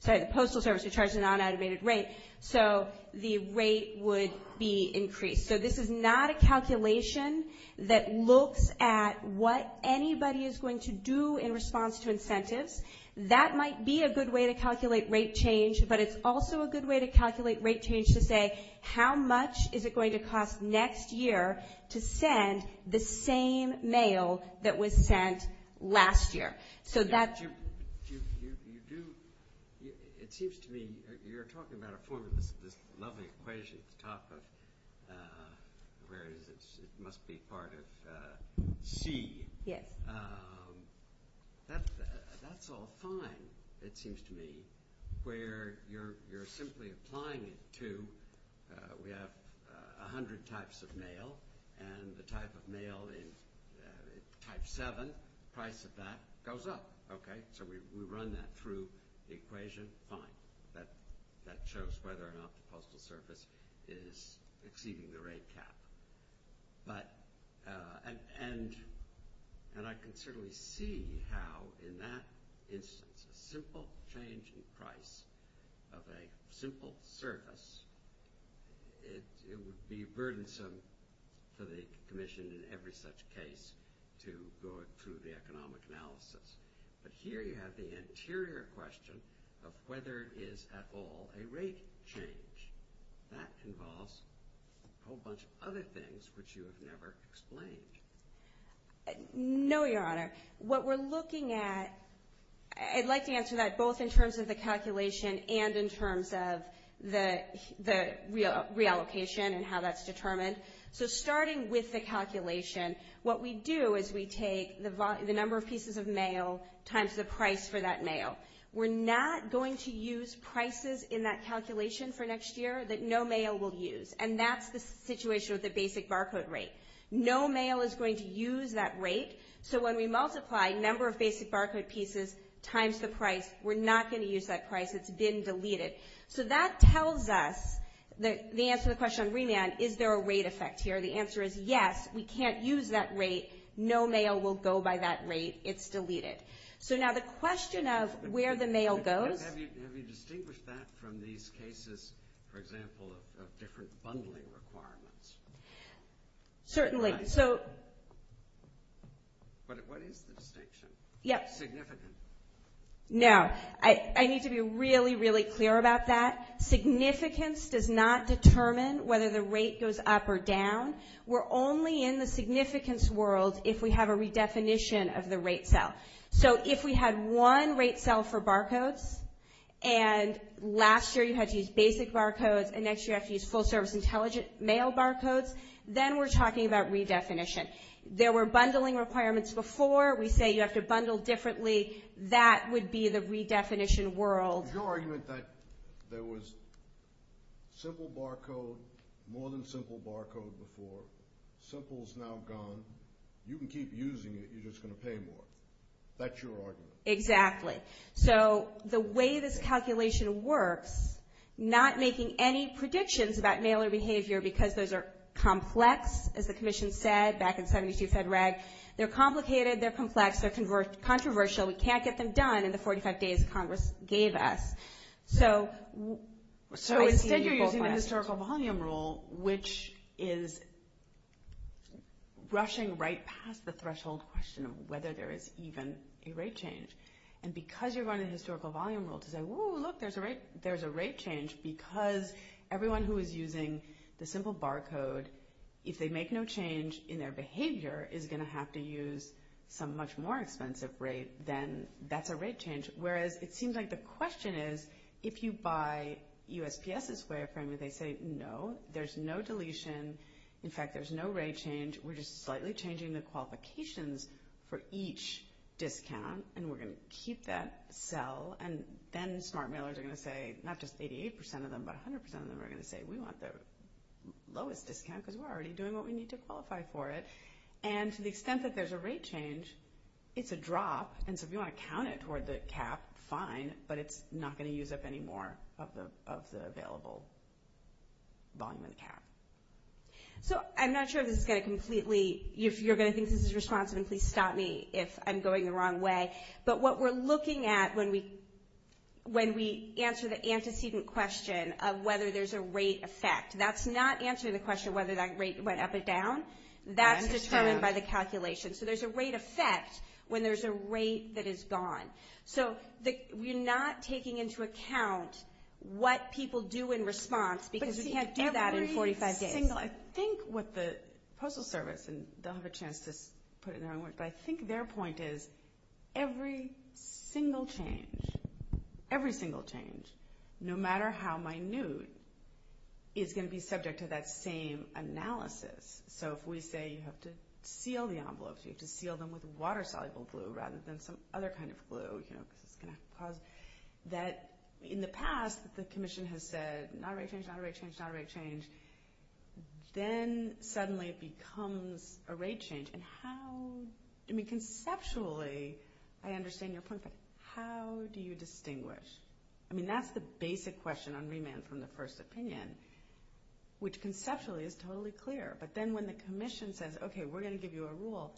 The Postal Service would charge a non-automated rate, so the rate would be increased. So this is not a calculation that looks at what anybody is going to do in response to incentives. That might be a good way to calculate rate change, but it's also a good way to calculate rate change to say how much is it going to cost next year to send the same mail that was sent last year. So that's – You do – it seems to me you're talking about a form of this lovely equation at the top of where it must be part of C. Yes. That's all fine, it seems to me, where you're simply applying it to – we have 100 types of mail, and the type of mail is type 7. The price of that goes up, okay? So we run that through the equation. Fine. That shows whether or not the Postal Service is exceeding the rate cap. But – and I can certainly see how in that instance, a simple change in price of a simple service, it would be burdensome for the Commission in every such case to go into the economic analysis. But here you have the interior question of whether it is at all a rate change. That involves a whole bunch of other things which you have never explained. No, Your Honor. What we're looking at – I'd like to answer that both in terms of the calculation and in terms of the reallocation and how that's determined. So starting with the calculation, what we do is we take the number of pieces of mail times the price for that mail. We're not going to use prices in that calculation for next year that no mail will use, and that's the situation with the basic barcode rate. No mail is going to use that rate, so when we multiply number of basic barcode pieces times the price, we're not going to use that price. It's been deleted. So that tells us the answer to the question on remand, is there a rate effect here? The answer is yes. We can't use that rate. No mail will go by that rate. It's deleted. So now the question of where the mail goes – Have you distinguished that from these cases, for example, of different bundling requirements? Certainly. So – But what is the distinction? Yes. No. I need to be really, really clear about that. Significance does not determine whether the rate goes up or down. We're only in the significance world if we have a redefinition of the rate cell. So if we have one rate cell for barcodes, and last year you had to use basic barcodes, and next year you have to use full-service intelligent mail barcodes, then we're talking about redefinition. There were bundling requirements before. We say you have to bundle differently. That would be the redefinition world. Your argument that there was simple barcode, more than simple barcode before. Simple is now gone. You can keep using it. You're just going to pay more. That's your argument. Exactly. So the way this calculation works, not making any predictions about mailer behavior because those are complex, as the Commission said back in February. They're complicated. They're complex. They're controversial. We can't get them done in the 45 days Congress gave us. So instead you're using the historical volume rule, which is rushing right past the threshold question of whether there is even a rate change. And because you're going to the historical volume rule to say, in their behavior is going to have to use some much more expensive rate, then that's a rate change. Whereas it seems like the question is, if you buy USPS and Squareframe and they say, no, there's no deletion. In fact, there's no rate change. We're just slightly changing the qualifications for each discount, and we're going to keep that cell. And then smart mailers are going to say, not just 88% of them, but 100% of them are going to say, we want the lowest discount because we're already doing what we need to qualify for it. And to the extent that there's a rate change, it's a drop. And so if you want to count it toward the cap, fine, but it's not going to use up any more of the available volume and cap. So I'm not sure this is going to completely ‑‑ you're going to think this is responsive, and please stop me if I'm going the wrong way. But what we're looking at when we answer the antecedent question of whether there's a rate effect, that's not answering the question of whether that rate went up or down. That's determined by the calculation. So there's a rate effect when there's a rate that is gone. So you're not taking into account what people do in response because you can't do that in 45 days. I think what the Postal Service, and they'll have a chance to put it in their own words, but I think their point is every single change, every single change, no matter how minute, is going to be subject to that same analysis. So if we say you have to seal the envelopes, you have to seal them with water-soluble glue rather than some other kind of glue. In the past, the Commission has said not a rate change, not a rate change, not a rate change. Then suddenly it becomes a rate change. And how ‑‑ I mean, conceptually, I understand your point, but how do you distinguish? I mean, that's the basic question on remand from the first opinion, which conceptually is totally clear. But then when the Commission says, okay, we're going to give you a rule,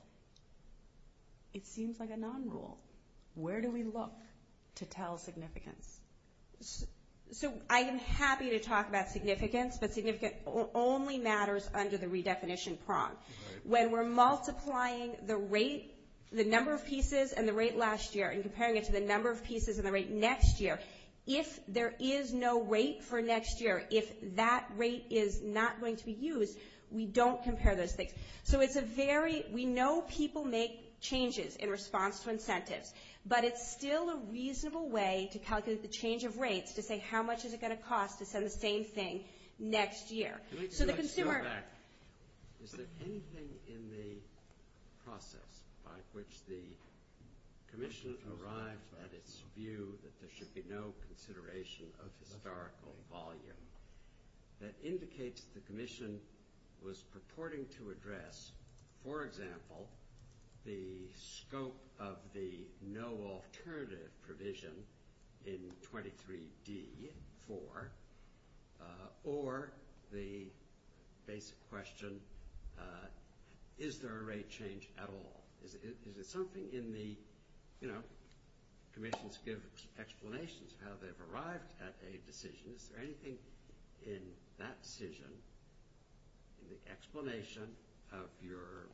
it seems like a non‑rule. Where do we look to tell significance? So I am happy to talk about significance, but significance only matters under the redefinition prong. When we're multiplying the rate, the number of pieces and the rate last year and comparing it to the number of pieces and the rate next year, if there is no rate for next year, if that rate is not going to be used, we don't compare those things. So it's a very ‑‑ we know people make changes in response to incentives, but it's still a reasonable way to calculate the change of rates to say how much is it going to cost to send the same thing next year. So the consumer ‑‑ Is there anything in the process by which the Commission arrived at its view that there should be no consideration of historical volume that indicates the Commission was purporting to address, for example, the scope of the no alternative provision in 23d, 4, or the basic question, is there a rate change at all? Is it something in the, you know, Commissions give explanations how they've arrived at a decision. Is there anything in that decision in the explanation of your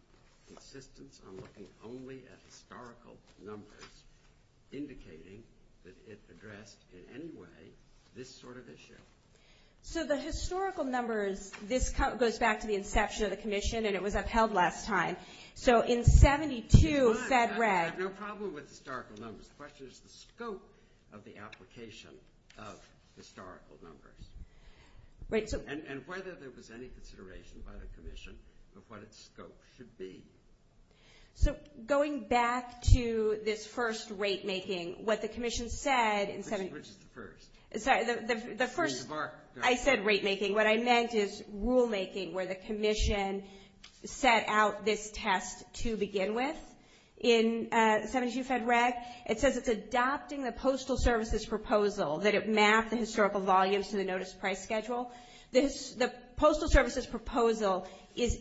insistence on looking only at historical numbers indicating that it addressed in any way this sort of issue? So the historical numbers, this goes back to the inception of the Commission, and it was upheld last time. So in 72‑‑ No problem with historical numbers. The question is the scope of the application of historical numbers. And whether there was any consideration by the Commission of what its scope should be. So going back to this first rate‑making, what the Commission said ‑‑ Which is the first? I said rate‑making. Rate‑making, what I meant is rule‑making where the Commission set out this test to begin with. In 72 Fed Rec, it says it's adopting the Postal Services Proposal that it mapped the historical volumes to the notice price schedule. The Postal Services Proposal is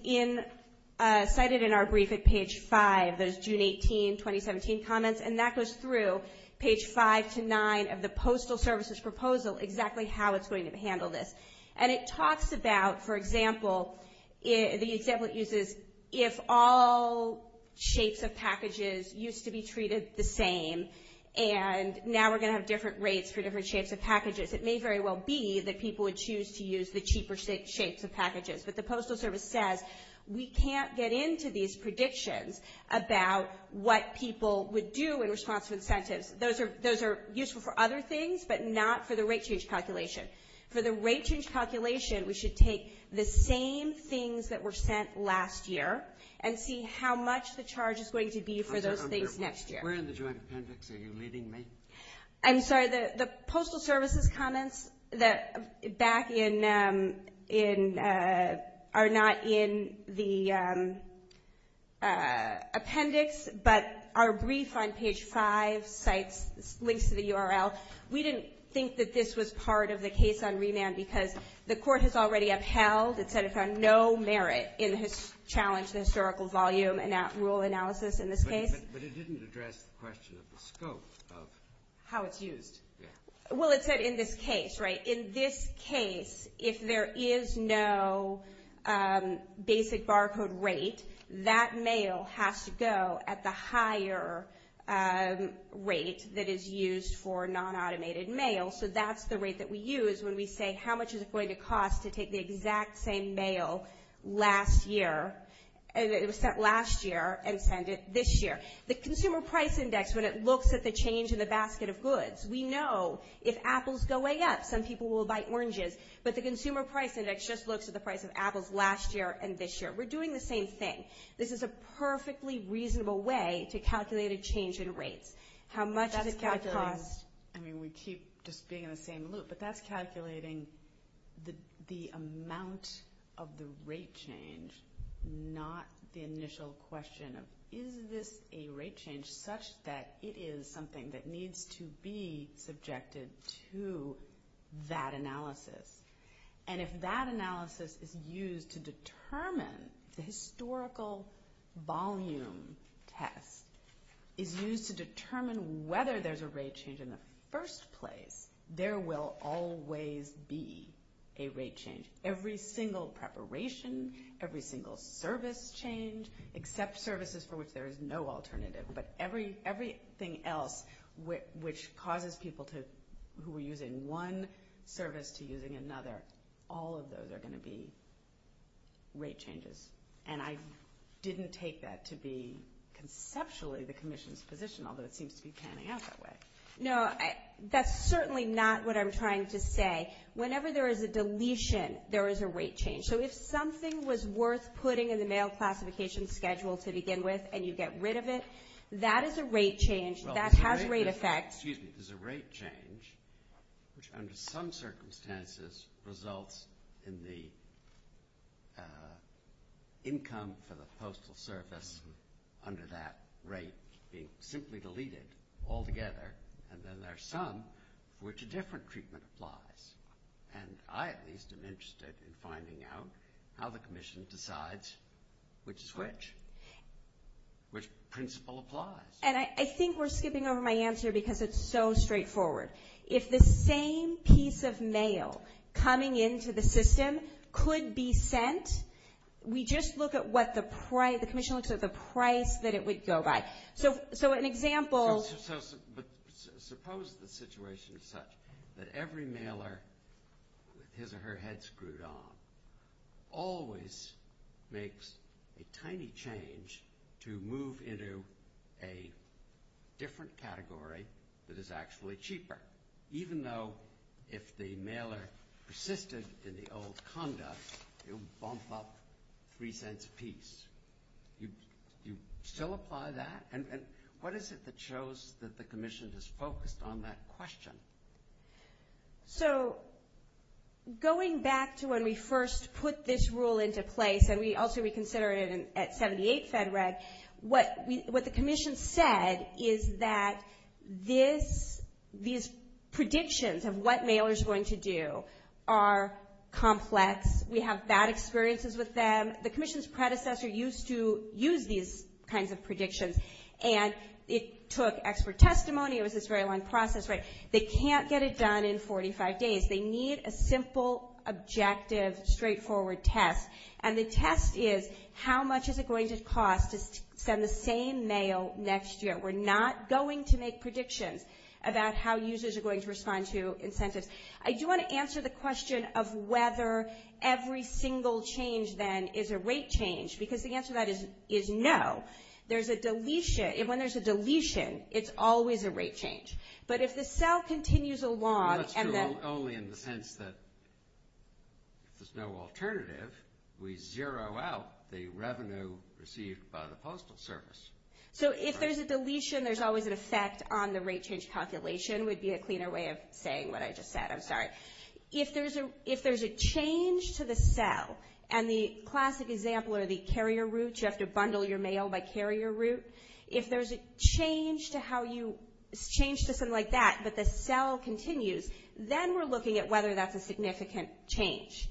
cited in our brief at page 5. That is June 18, 2017 comments. And that goes through page 5 to 9 of the Postal Services Proposal, exactly how it's going to handle this. And it talks about, for example, it uses if all shapes of packages used to be treated the same, and now we're going to have different rates for different shapes of packages. It may very well be that people would choose to use the cheaper shapes of packages. But the Postal Service said we can't get into these predictions about what people would do in response to incentives. Those are useful for other things, but not for the rate change calculation. For the rate change calculation, we should take the same things that were sent last year and see how much the charge is going to be for those things next year. Where in the joint appendix are you leading me? I'm sorry. The Postal Services comments that are not in the appendix but are briefed on page 5, links to the URL. We didn't think that this was part of the case on remand because the court has already upheld. It said it's on no merit in its challenge to historical volume and that rule analysis in this case. But it didn't address the question of the scope of how it's used. Well, it said in this case, right? In this case, if there is no basic barcode rate, that mail has to go at the higher rate that is used for non-automated mail. So that's the rate that we use when we say, how much is it going to cost to take the exact same mail last year and it was sent last year and send it this year. The Consumer Price Index, when it looks at the change in the basket of goods, we know if apples go way up, some people will buy oranges. But the Consumer Price Index just looks at the price of apples last year and this year. We're doing the same thing. This is a perfectly reasonable way to calculate a change in rates. How much does it cost? I mean, we keep just being in the same loop, but that's calculating the amount of the rate change, not the initial question. Is this a rate change such that it is something that needs to be subjected to that analysis? And if that analysis is used to determine the historical volume test, is used to determine whether there's a rate change in the first place, there will always be a rate change. Every single preparation, every single service change, except services for which there is no alternative, but everything else which causes people who are using one service to using another, all of those are going to be rate changes. And I didn't take that to be conceptually the Commission's position, although it seems to be panning out that way. No, that's certainly not what I'm trying to say. Whenever there is a deletion, there is a rate change. So if something was worth putting in the mail classification schedule to begin with and you get rid of it, that is a rate change. That has rate effects. Excuse me. There's a rate change which under some circumstances results in the income for the postal service under that rate being simply deleted altogether, and then there's some for which a different treatment applies. And I at least am interested in finding out how the Commission decides which is which, which principle applies. And I think we're skipping over my answer because it's so straightforward. If the same piece of mail coming into the system could be sent, we just look at what the price, the Commission looks at the price that it would go by. So an example. Suppose the situation is such that every mailer, his or her head screwed on, always makes a tiny change to move into a different category that is actually cheaper, even though if the mailer persisted in the old conduct, it would bump up three cents apiece. You still apply that? And what is it that shows that the Commission is focused on that question? So going back to when we first put this rule into place, and we ultimately considered it at 78 FedRed, what the Commission said is that these predictions of what mailers are going to do are complex. We have bad experiences with them. The Commission's predecessor used to use these kinds of predictions, and it took expert testimony with this very long process. They can't get it done in 45 days. They need a simple, objective, straightforward test, and the test is how much is it going to cost to send the same mail next year. We're not going to make predictions about how users are going to respond to incentives. I do want to answer the question of whether every single change, then, is a rate change, because the answer to that is no. There's a deletion. When there's a deletion, it's always a rate change. But if the cell continues along and that's... Well, that's true only in the sense that there's no alternative. We zero out the revenue received by the Postal Service. So if there's a deletion, there's always an effect on the rate change calculation, which would be a cleaner way of saying what I just said. I'm sorry. If there's a change to the cell, and the classic example are the carrier routes. You have to bundle your mail by carrier route. If there's a change to something like that, but the cell continues, then we're looking at whether that's a significant change.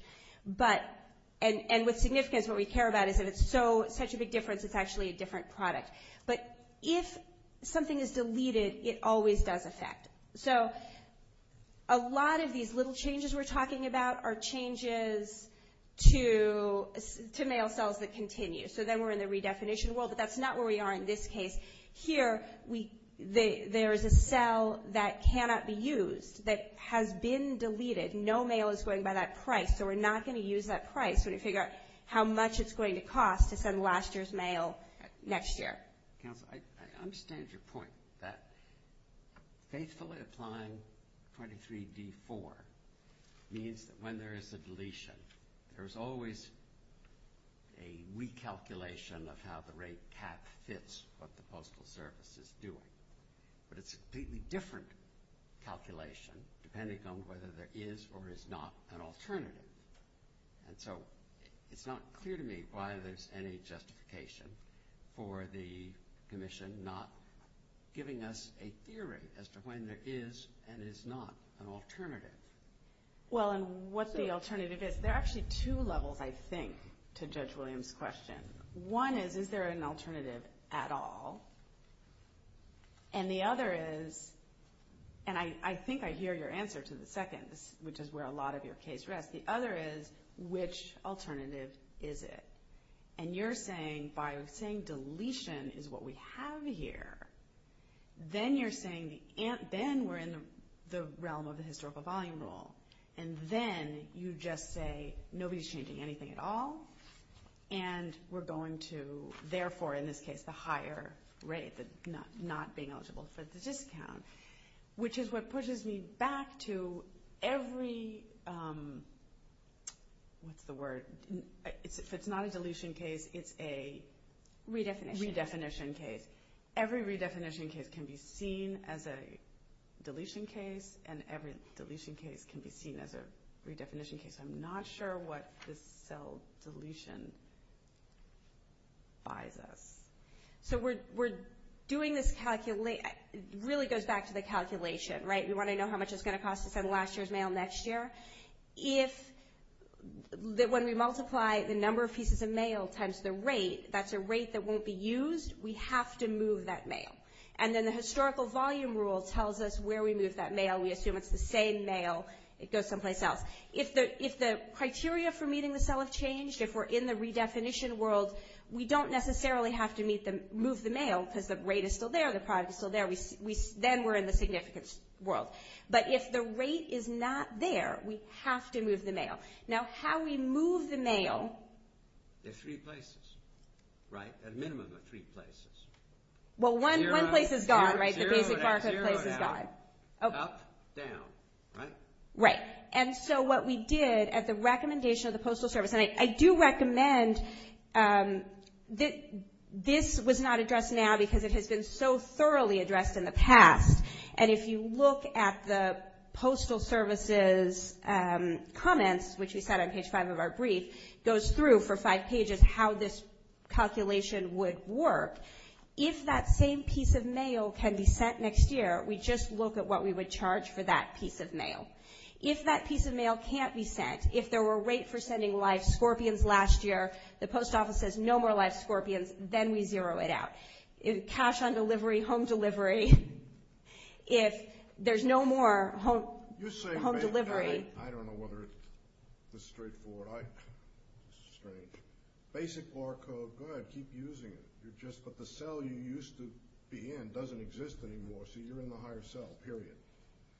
And with significance, what we care about is that it's such a big difference, it's actually a different product. But if something is deleted, it always does affect. So a lot of these little changes we're talking about are changes to mail cells that continue. So then we're in the redefinition world, but that's not where we are in this case. Here, there's a cell that cannot be used, that has been deleted. No mail is going by that price, so we're not going to use that price. We're just going to figure out how much it's going to cost to send last year's mail next year. I understand your point that basically applying 23D4 means that when there is a deletion, there's always a recalculation of how the rate tax fits what the Postal Service is doing. But it's a completely different calculation depending on whether there is or is not an alternative. And so it's not clear to me why there's any justification for the Commission not giving us a theory as to when there is and is not an alternative. Well, and what the alternative is, there are actually two levels, I think, to Judge Williams' question. One is, is there an alternative at all? And the other is, and I think I hear your answer to the second, which is where a lot of your case rests, but the other is, which alternative is it? And you're saying, by saying deletion is what we have here, then you're saying then we're in the realm of the historical volume rule. And then you just say nobody's changing anything at all, and we're going to, therefore, in this case, not being eligible for the discount, which is what pushes me back to every, what's the word? If it's not a deletion case, it's a redefinition case. Every redefinition case can be seen as a deletion case, and every deletion case can be seen as a redefinition case. I'm not sure what the cell deletion buys us. So we're doing this calculation. It really goes back to the calculation, right? We want to know how much it's going to cost us on last year's mail next year. If, when we multiply the number of pieces of mail times the rate, that's a rate that won't be used. We have to move that mail. And then the historical volume rule tells us where we move that mail. We assume it's the same mail. It goes someplace else. If the criteria for meeting the cell have changed, if we're in the redefinition world, we don't necessarily have to move the mail because the rate is still there, the price is still there. Then we're in the significance world. But if the rate is not there, we have to move the mail. Now, how we move the mail. There's three places, right? A minimum of three places. Well, one place is gone, right? The basic barcode says it's gone. Up, down, right? Right. And so what we did at the recommendation of the Postal Service, and I do recommend that this was not addressed now because it had been so thoroughly addressed in the past. And if you look at the Postal Service's comments, which we've got on page five of our brief, goes through for five pages how this calculation would work. If that same piece of mail can be sent next year, we just look at what we would charge for that piece of mail. If that piece of mail can't be sent, if there were a rate for sending live scorpions last year, the post office says no more live scorpions, then we zero it out. Cash on delivery, home delivery, if there's no more home delivery. I don't know whether it's straightforward. Basic barcode, good, keep using it. But the cell you used to be in doesn't exist anymore, so you're in the higher cell, period.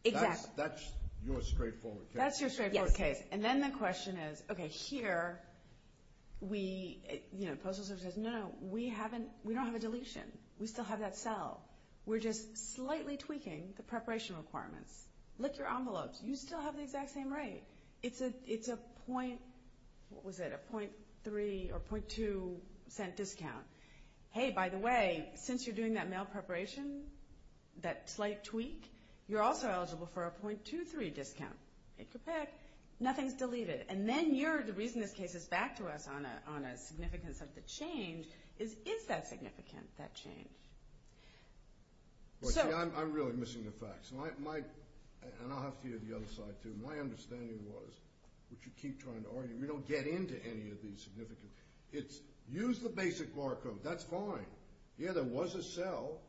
Exactly. That's your straightforward case. That's your straightforward case. And then the question is, okay, here, you know, Postal Service says, no, we don't have a deletion. We still have that cell. We're just slightly tweaking the preparation requirements. Look at your envelopes. You still have the exact same rate. It's a 0.3 or 0.2 cent discount. Hey, by the way, since you're doing that mail preparation, that slight tweak, you're also eligible for a 0.23 discount. It's a pick. Nothing's deleted. And then the reason this case is back to us on a significance of the change is, is that significant, that change? Well, see, I'm really missing the facts. And I'll have to give you the other side, too. My understanding was, which you keep trying to argue, you don't get into any of these significant things. Use the basic barcode. That's fine. Yeah, there was a cell.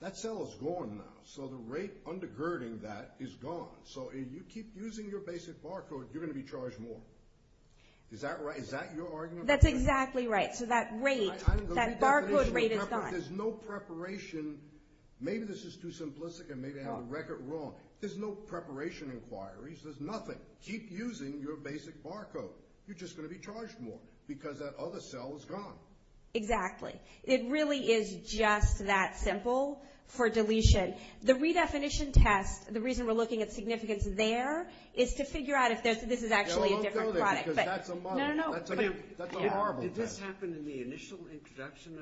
That cell is gone now. So the rate undergirding that is gone. So if you keep using your basic barcode, you're going to be charged more. Is that right? Is that your argument? That's exactly right. So that rate, that barcode rate is gone. There's no preparation. Maybe this is too simplistic and maybe I have a record wrong. There's no preparation required. There's nothing. Keep using your basic barcode. You're just going to be charged more because that other cell is gone. Exactly. It really is just that simple for deletion. The redefinition test, the reason we're looking at significance there is to figure out if this is actually a different product. That's a horrible question. Did this happen in the initial introduction?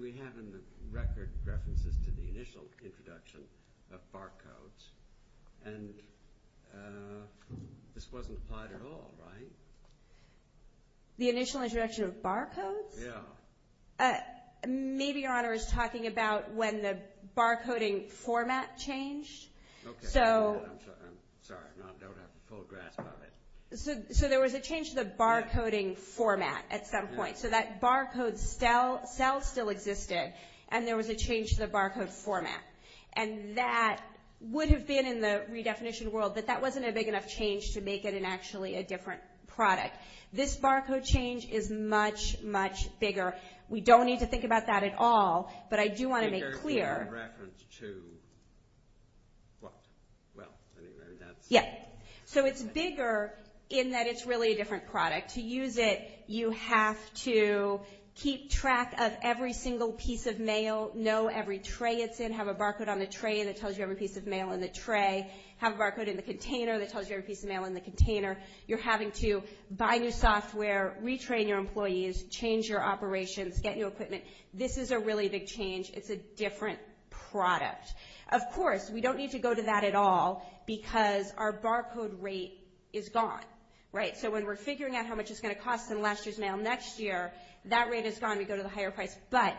We have in the record references to the initial introduction of barcodes. And this wasn't applied at all, right? The initial introduction of barcodes? Yeah. Maybe your Honor is talking about when the barcoding format changed. Okay. I'm sorry. I don't have a full grasp of it. So there was a change to the barcoding format at some point. So that barcode cell still existed and there was a change to the barcode format. And that would have been in the redefinition world, but that wasn't a big enough change to make it actually a different product. This barcode change is much, much bigger. We don't need to think about that at all, but I do want to make clear. So it's bigger in that it's really a different product. To use it, you have to keep track of every single piece of mail, know every tray it's in, have a barcode on the tray that tells you every piece of mail in the tray, have a barcode in the container that tells you every piece of mail in the container. You're having to buy new software, retrain your employees, change your operations, get new equipment. This is a really big change. It's a different product. Of course, we don't need to go to that at all because our barcode rate is gone, right? So when we're figuring out how much it's going to cost in last year's mail next year, that rate is gone. We go to the higher price. But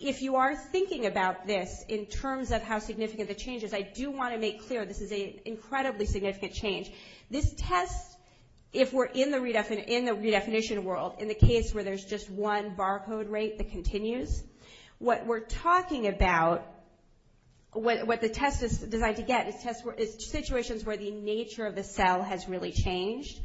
if you are thinking about this in terms of how significant the change is, I do want to make clear this is an incredibly significant change. This tests if we're in the redefinition world in the case where there's just one barcode rate that continues. What we're talking about, what the test is designed to get is situations where the nature of the cell has really changed,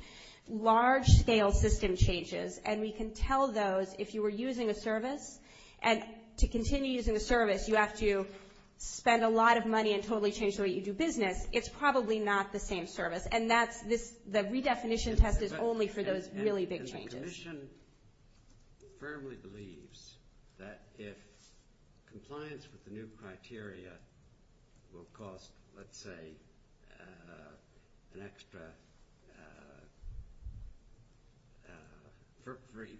large-scale system changes. And we can tell those if you were using a service. And to continue using a service, you have to spend a lot of money and totally change the way you do business. It's probably not the same service. And the redefinition test is only for those really big changes. The Commission firmly believes that if compliance with the new criteria will cost, let's say, an extra –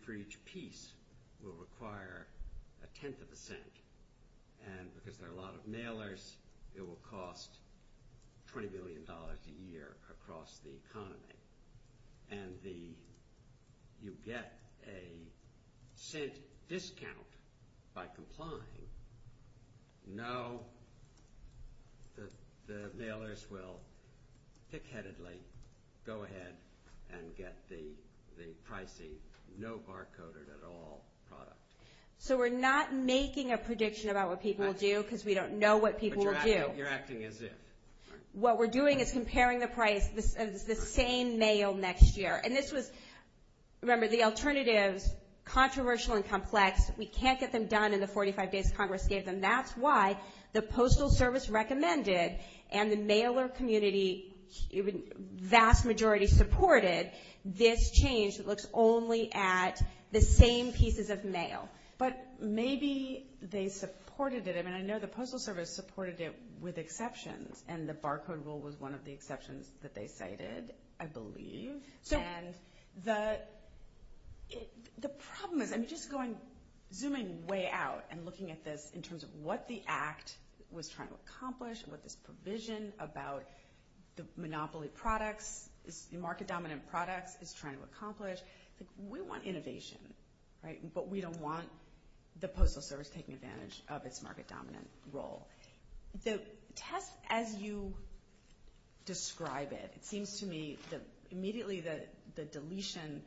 for each piece will require a tenth of a cent. And because there are a lot of mailers, it will cost $20 billion a year across the economy. And the – you get a safe discount by complying. No, the mailers will thick-headedly go ahead and get the pricey, no barcoded at all product. So we're not making a prediction about what people will do because we don't know what people will do. But you're acting as if. What we're doing is comparing the price of the same mail next year. And this was – remember, the alternatives, controversial and complex, we can't get them done in the 45 days Congress gave them. That's why the Postal Service recommended and the mailer community, even vast majority, supported this change that looks only at the same pieces of mail. But maybe they supported it. I mean, I know the Postal Service supported it with exceptions, and the barcode rule was one of the exceptions that they cited, I believe. And the problem – I'm just going – zooming way out and looking at this in terms of what the Act was trying to accomplish, what the provision about the monopoly products, the market-dominant products, is trying to accomplish. We want innovation, but we don't want the Postal Service taking advantage of its market-dominant role. So TESS, as you describe it, it seems to me that immediately the deletion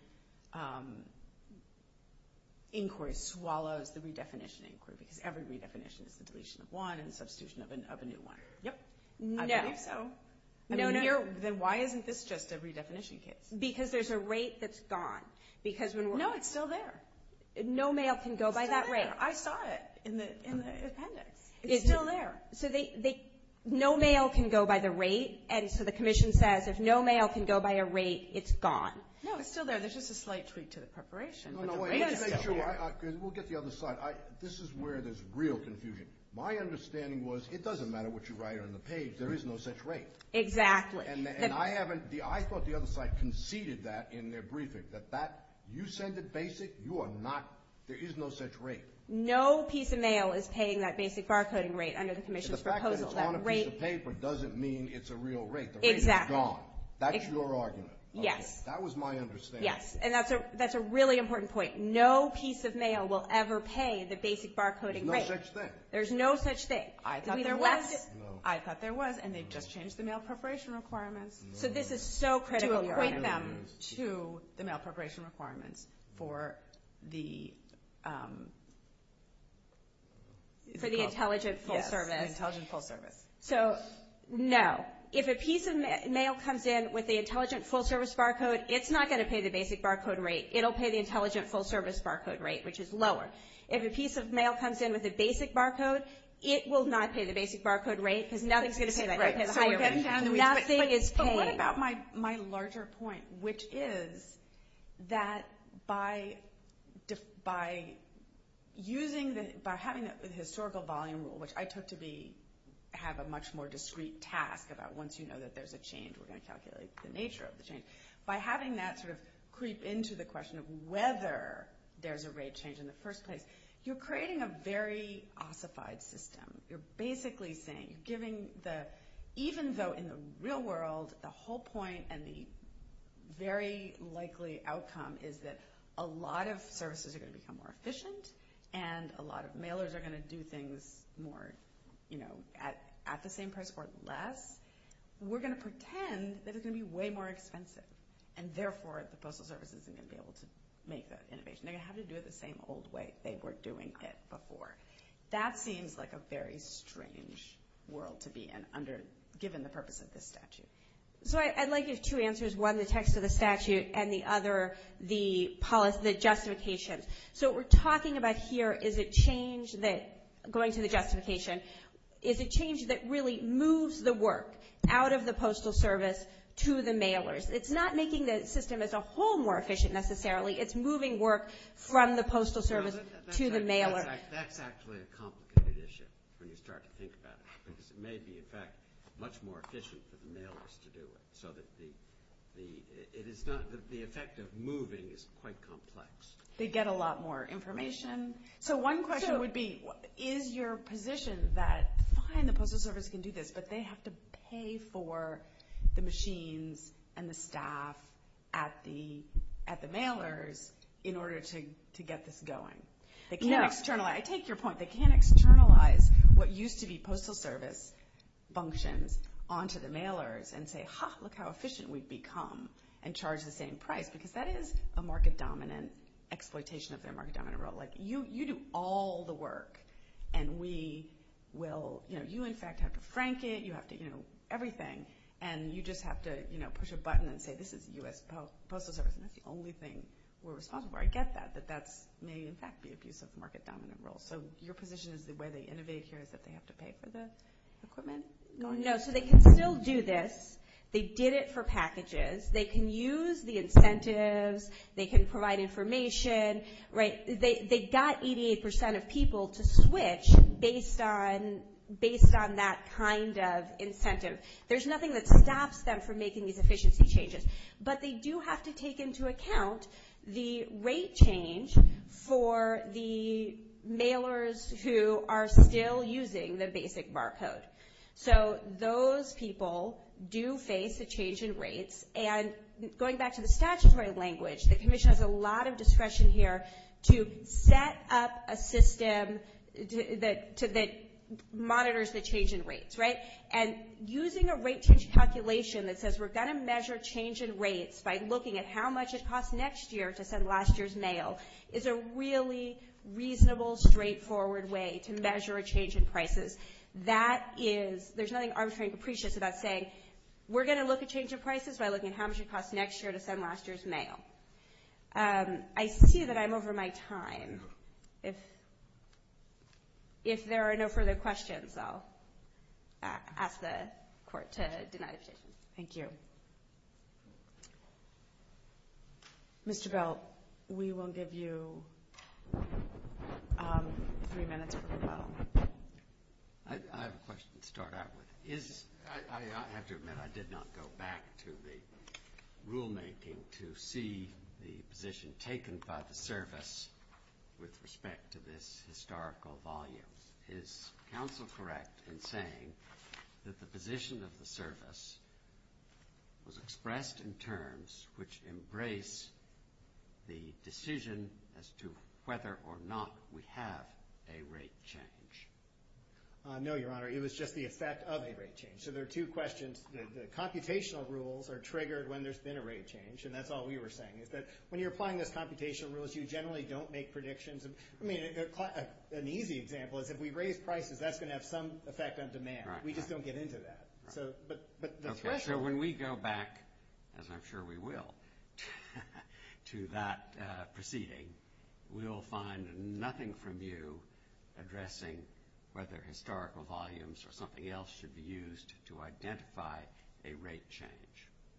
inquiry swallows the redefinition inquiry because every redefinition is the deletion of one and substitution of a new one. Yep. No, no. Then why isn't this just a redefinition case? Because there's a rate that's gone. No, it's still there. No mail can go by that rate. I saw it in the appendix. It's still there. No mail can go by the rate, and so the commission says if no mail can go by a rate, it's gone. No, it's still there. There's just a slight tweak to the preparation. No, no. We'll get the other side. This is where there's real confusion. My understanding was it doesn't matter what you write on the page. There is no such rate. Exactly. I thought the other side conceded that in their briefing, that you said the basic. There is no such rate. No piece of mail is paying that basic barcoding rate under the commission's proposal. The fact that it's on a piece of paper doesn't mean it's a real rate. The rate is gone. That's your argument. Yes. That was my understanding. Yes, and that's a really important point. No piece of mail will ever pay the basic barcoding rate. There's no such thing. There's no such thing. I thought there was. I thought there was, and they've just changed the mail preparation requirement. So, this is so critical. To equate them to the mail preparation requirement for the intelligent full service. Yes, the intelligent full service. So, no. If a piece of mail comes in with the intelligent full service barcode, it's not going to pay the basic barcode rate. It'll pay the intelligent full service barcode rate, which is lower. If a piece of mail comes in with a basic barcode, it will not pay the basic barcode rate because nothing's going to pay that rate. Nothing is paid. But what about my larger point, which is that by using the – by having the historical volume, which I took to be – have a much more discreet task about once you know that there's a change, we're going to calculate the nature of the change. By having that sort of creep into the question of whether there's a rate of change in the first place, you're creating a very ossified system. You're basically saying, even though in the real world the whole point and the very likely outcome is that a lot of services are going to become more efficient and a lot of mailers are going to do things more at the same price or less, we're going to pretend that it's going to be way more expensive, and therefore the postal service isn't going to be able to make that innovation. They're going to have to do it the same old way they were doing it before. That seems like a very strange world to be in given the purpose of this statute. So, I'd like to give two answers, one the text of the statute and the other the justification. So, what we're talking about here is a change that – going to the justification – is a change that really moves the work out of the postal service to the mailers. It's not making the system as a whole more efficient necessarily. It's moving work from the postal service to the mailers. That's actually a complicated issue when you start to think about it because it may be, in fact, much more efficient for the mailers to do it, so that the effect of moving is quite complex. They get a lot more information. So, one question would be, is your position that, fine, the postal service can do this, but they have to pay for the machines and the staff at the mailers in order to get this going? I take your point. They can't externalize what used to be postal service functions onto the mailers and say, Like, you do all the work, and we will – you, in fact, have to crank it. You have to do everything, and you just have to push a button and say, this is the postal service, and that's the only thing we're responsible for. I get that, but that may, in fact, be a piece of market-dominant role. So, your position is the way they innovate here is that they have to pay for the equipment? No, so they can still do this. They did it for packages. They can use the incentives. They can provide information. They got 88 percent of people to switch based on that kind of incentive. There's nothing that stops them from making these efficiency changes, but they do have to take into account the rate change for the mailers who are still using the basic barcode. So, those people do face a change in rates. And going back to the statutory language, the commission has a lot of discretion here to set up a system that monitors the change in rates, right? And using a rate change calculation that says we're going to measure change in rates by looking at how much it costs next year to send last year's mail is a really reasonable, straightforward way to measure a change in prices. That is – there's nothing arbitrary and capricious about saying we're going to look at change in prices by looking at how much it costs next year to send last year's mail. I see that I'm over my time. If there are no further questions, I'll ask the Court to deny the decision. Thank you. Mr. Bell, we will give you three minutes for a follow-up. I have a question to start out with. I have to admit I did not go back to the rulemaking to see the position taken by the service with respect to this historical volume. Is counsel correct in saying that the position of the service was expressed in terms which embraced the decision as to whether or not we have a rate change? No, Your Honor, it was just the effect of the rate change. So there are two questions. The computational rules are triggered when there's been a rate change, and that's all we were saying. When you're applying those computational rules, you generally don't make predictions. I mean, an easy example is if we raise prices, that's going to have some effect on demand. We just don't get into that. So when we go back, as I'm sure we will, to that proceeding, we'll find nothing from you addressing whether historical volumes or something else should be used to identify a rate change.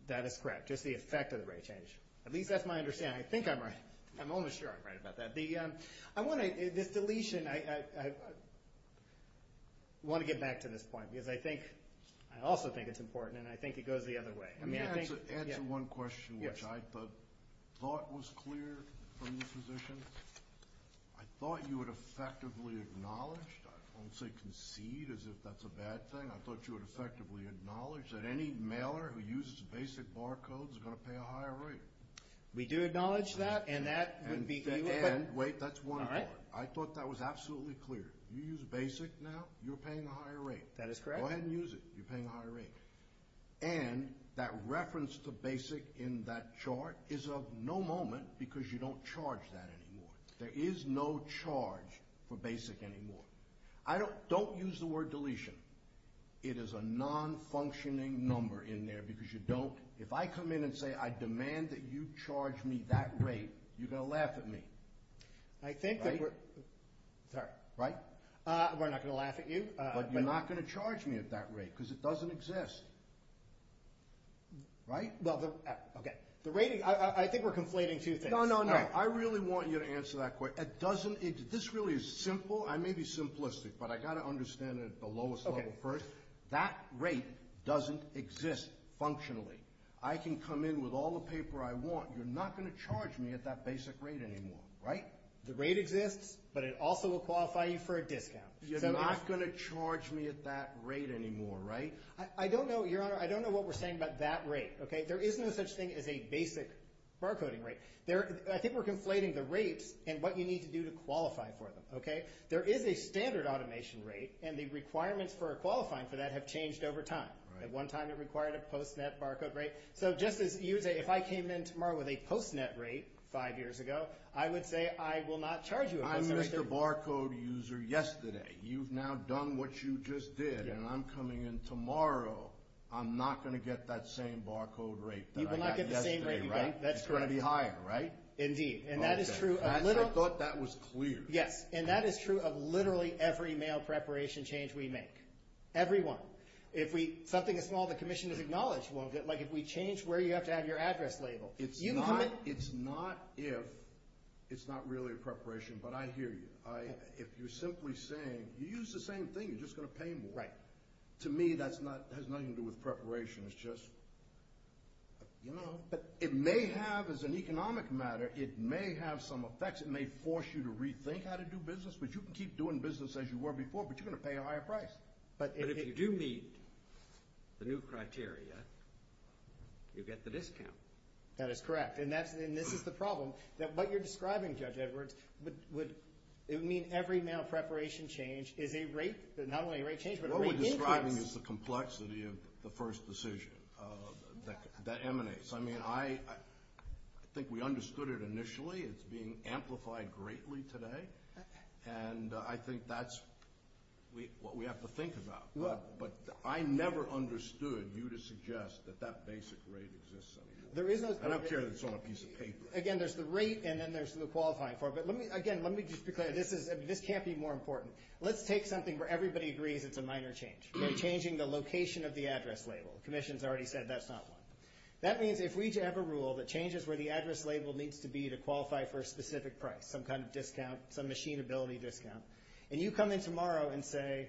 That is correct, just the effect of the rate change. At least that's my understanding. I think I'm almost sure I'm right about that. This deletion, I want to get back to this point because I also think it's important, and I think it goes the other way. Let me answer one question, which I thought was clear from your position. I thought you would effectively acknowledge, I won't say concede as if that's a bad thing. I thought you would effectively acknowledge that any mailer who uses basic bar codes is going to pay a high rate. We do acknowledge that, and that would be— Wait, that's one more. I thought that was absolutely clear. You use basic now, you're paying a higher rate. That is correct. Go ahead and use it. You're paying a higher rate. And that reference to basic in that chart is of no moment because you don't charge that anymore. There is no charge for basic anymore. Don't use the word deletion. It is a non-functioning number in there because you don't— If you charge me that rate, you're going to laugh at me. I think that— Right? Sorry. Right? We're not going to laugh at you. But you're not going to charge me at that rate because it doesn't exist. Right? Okay. The rating—I think we're complaining too thick. No, no, no. I really want you to answer that question. It doesn't—this really is simple. I may be simplistic, but I've got to understand it at the lowest level first. That rate doesn't exist functionally. I can come in with all the paper I want. You're not going to charge me at that basic rate anymore. Right? The rate exists, but it also will qualify you for a discount. You're not going to charge me at that rate anymore, right? I don't know, Your Honor. I don't know what we're saying about that rate. Okay? There is no such thing as a basic barcoding rate. I think we're conflating the rates and what you need to do to qualify for them. Okay? There is a standard automation rate, and the requirements for qualifying for that have changed over time. At one time, it required a post-net barcode rate. So just as you say, if I came in tomorrow with a post-net rate five years ago, I would say I will not charge you a post-net rate. I missed a barcode user yesterday. You've now done what you just did, and I'm coming in tomorrow. I'm not going to get that same barcode rate that I got yesterday, right? You will not get the same rate. That's correct. It's going to be higher, right? Indeed. And that is true of— I thought that was clear. Yes. And that is true of literally every mail preparation change we make. Every one. If we—something as small as a commission is acknowledged, like if we change where you have to have your address labeled. It's not if. It's not really a preparation, but I hear you. If you're simply saying, you use the same thing, you're just going to pay more. Right. To me, that has nothing to do with preparation. It's just, you know, it may have, as an economic matter, it may have some effects. It may force you to rethink how to do business, but you can keep doing business as you were before, but you're going to pay a higher price. But if you do meet the new criteria, you get the discount. That is correct. And this is the problem, that what you're describing, Judge Edwards, would mean every mail preparation change is a rate—not only a rate change, but a rate increase. What we're describing is the complexity of the first decision that emanates. I mean, I think we understood it initially. It's being amplified greatly today. And I think that's what we have to think about. But I never understood you to suggest that that basic rate exists. I don't care that it's on a piece of paper. Again, there's the rate, and then there's the qualifying for it. But, again, let me just be clear. This can't be more important. Let's take something where everybody agrees it's a minor change. We're changing the location of the address label. The Commission's already said that's not one. That means if we have a rule that changes where the address label needs to be to qualify for a specific price, some kind of discount, some machinability discount, and you come in tomorrow and say,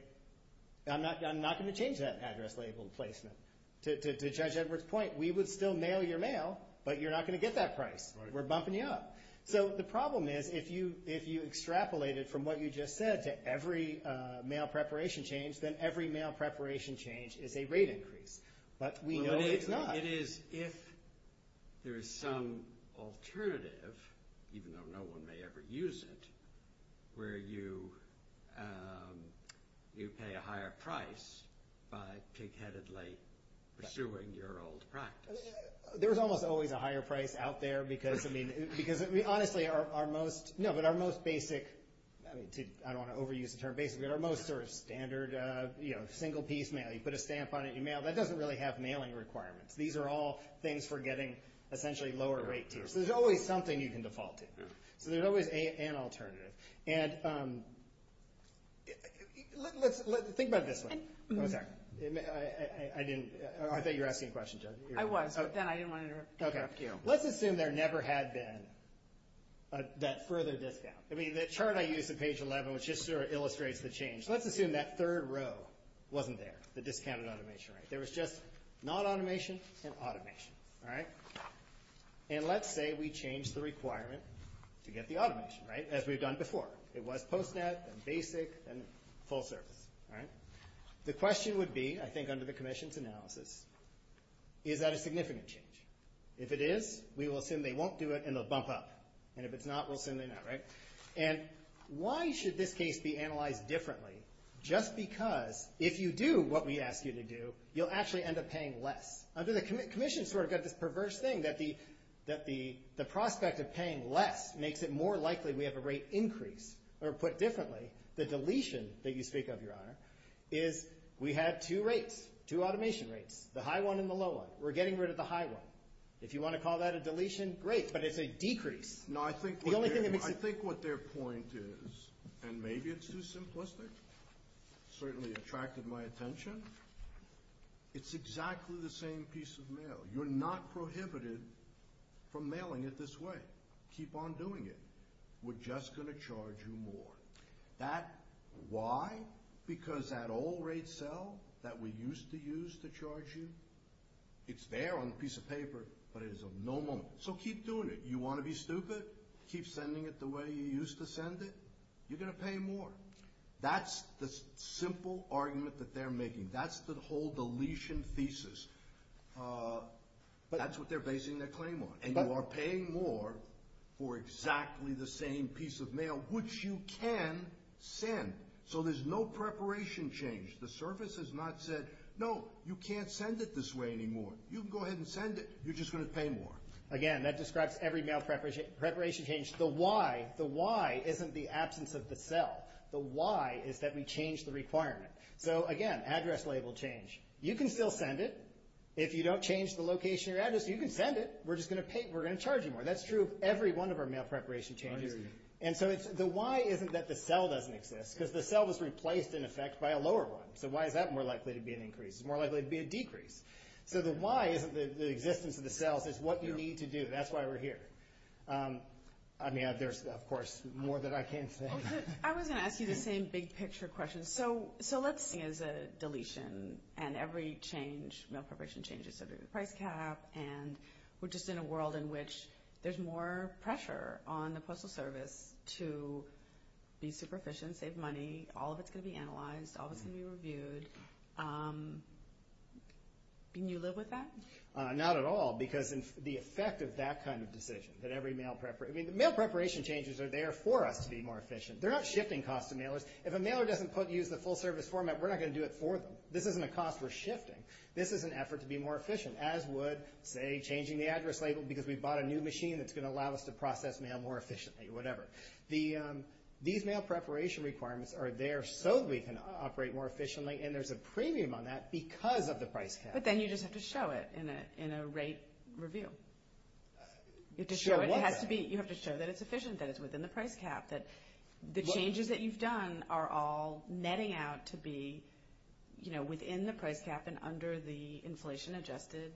I'm not going to change that address label placement. To Judge Edwards' point, we would still mail your mail, but you're not going to get that price. We're bumping you up. So the problem is, if you extrapolated from what you just said to every mail preparation change, then every mail preparation change is a rate increase. But we know it's not. It is if there is some alternative, even though no one may ever use it, where you pay a higher price by pig-headedly pursuing your old practice. There's almost always a higher price out there, because, I mean, honestly, our most basic, I don't want to overuse the term basic, but our most sort of standard, you know, single-piece mail. You put a stamp on it, you mail. That doesn't really have mailing requirements. These are all things for getting essentially lower rates. There's always something you can default to. There's always an alternative. And think about this one. I didn't – I thought you were asking a question, Judge. I was, but then I didn't want to interrupt you. Let's assume there never had been that further discount. I mean, the chart I used in page 11 was just sort of illustrates the change. Let's assume that third row wasn't there, the discounted automation rate. There was just not automation and automation, all right? And let's say we change the requirement to get the automation, right, as we've done before. It was post-net and basic and sole service, all right? The question would be, I think under the commission's analysis, is that a significant change? If it is, we will assume they won't do it and they'll bump up. And if it's not, we'll assume they won't, right? And why should this case be analyzed differently? Just because if you do what we ask you to do, you'll actually end up paying less. Under the commission's sort of got this perverse thing that the prospect of paying less makes it more likely we have a rate increase, or put differently, the deletion that you speak of, Your Honor, is we have two rates, two automation rates, the high one and the low one. We're getting rid of the high one. If you want to call that a deletion, great, but it's a decrease. I think what their point is, and maybe it's too simplistic, certainly attracted my attention, it's exactly the same piece of mail. You're not prohibited from mailing it this way. Keep on doing it. We're just going to charge you more. Why? Because that old rate cell that we used to use to charge you, it's there on a piece of paper, but it is of no use. So keep doing it. You want to be stupid, keep sending it the way you used to send it, you're going to pay more. That's the simple argument that they're making. That's the whole deletion thesis. That's what they're basing their claim on. And you are paying more for exactly the same piece of mail, which you can send. So there's no preparation change. The service has not said, no, you can't send it this way anymore. You can go ahead and send it. You're just going to pay more. Again, that describes every mail preparation change. The why, the why isn't the absence of the cell. The why is that we changed the requirement. So, again, address label change. You can still send it. If you don't change the location of your address, you can send it. We're just going to charge you more. That's true of every one of our mail preparation changes. And so the why isn't that the cell doesn't exist. Because the cell was replaced, in effect, by a lower one. So why is that more likely to be an increase? It's more likely to be a decrease. So the why isn't the existence of the cell. It's what you need to do. That's why we're here. I mean, there's, of course, more that I can say. I was going to ask you the same big picture question. So let's say there's a deletion and every change, mail preparation changes, and we're just in a world in which there's more pressure on the Postal Service to be super efficient, save money. All of it's going to be analyzed. All of it's going to be reviewed. Can you live with that? Not at all. Because the effect of that kind of decision, that every mail preparation ‑‑ I mean, the mail preparation changes are there for us to be more efficient. They're not shifting cost to mailers. If a mailer doesn't use the full service format, we're not going to do it for them. This isn't a cost we're shifting. This is an effort to be more efficient, as would, say, changing the address label because we bought a new machine that's going to allow us to process mail more efficiently, whatever. These mail preparation requirements are there so we can operate more efficiently, and there's a premium on that because of the price cap. But then you just have to show it in a rate review. You have to show that it's efficient, that it's within the price cap, that the changes that you've done are all netting out to be within the price cap and under the inflation‑adjusted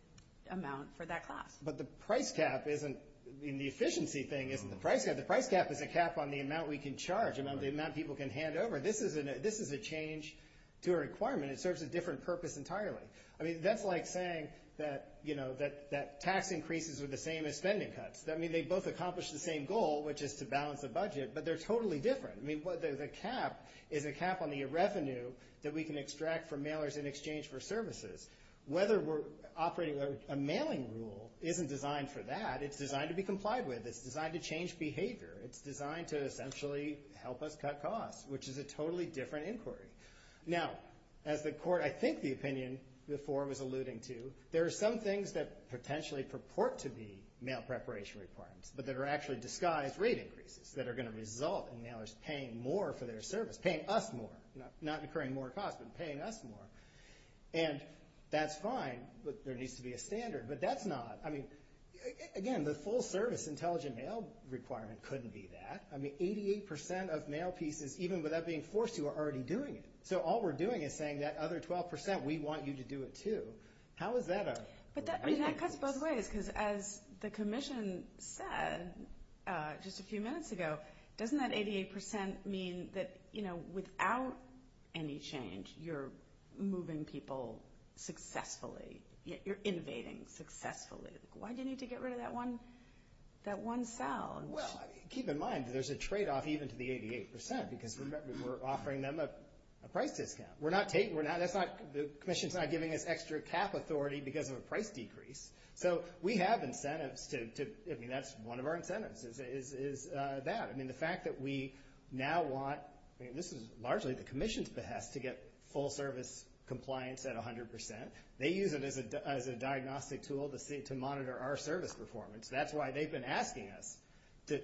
amount for that cost. But the price cap isn't the efficiency thing. The price cap is a cap on the amount we can charge and on the amount people can hand over. This is a change to a requirement. It serves a different purpose entirely. I mean, that's like saying that tax increases are the same as spending cuts. I mean, they both accomplish the same goal, which is to balance the budget, but they're totally different. I mean, the cap is a cap on the revenue that we can extract from mailers in exchange for services. Whether we're operating with a mailing rule isn't designed for that. It's designed to be complied with. It's designed to change behavior. It's designed to essentially help us cut costs, which is a totally different inquiry. Now, as the Court, I think, the opinion before was alluding to, there are some things that potentially purport to be mail preparation requirements, but that are actually disguised rate increases that are going to result in mailers paying more for their service, paying us more, not incurring more costs, but paying us more. And that's fine, but there needs to be a standard. But that's not ‑‑ I mean, again, the full service intelligent mail requirement couldn't be that. I mean, 88% of mail pieces, even without being forced to, are already doing it. So all we're doing is saying that other 12%, we want you to do it too. How would that ‑‑ But that cuts both ways, because as the Commission said just a few minutes ago, doesn't that 88% mean that, you know, without any change, you're moving people successfully? You're innovating successfully. Why do you need to get rid of that one cell? Well, keep in mind, there's a tradeoff even to the 88%, because remember, we're offering them a break discount. We're not taking ‑‑ the Commission's not giving us extra cap authority because of a price decrease. So we have incentives to ‑‑ I mean, that's one of our incentives is that. I mean, the fact that we now want ‑‑ I mean, this is largely the Commission's behest to get full service compliance at 100%. They use it as a diagnostic tool to monitor our service performance. That's why they've been asking us to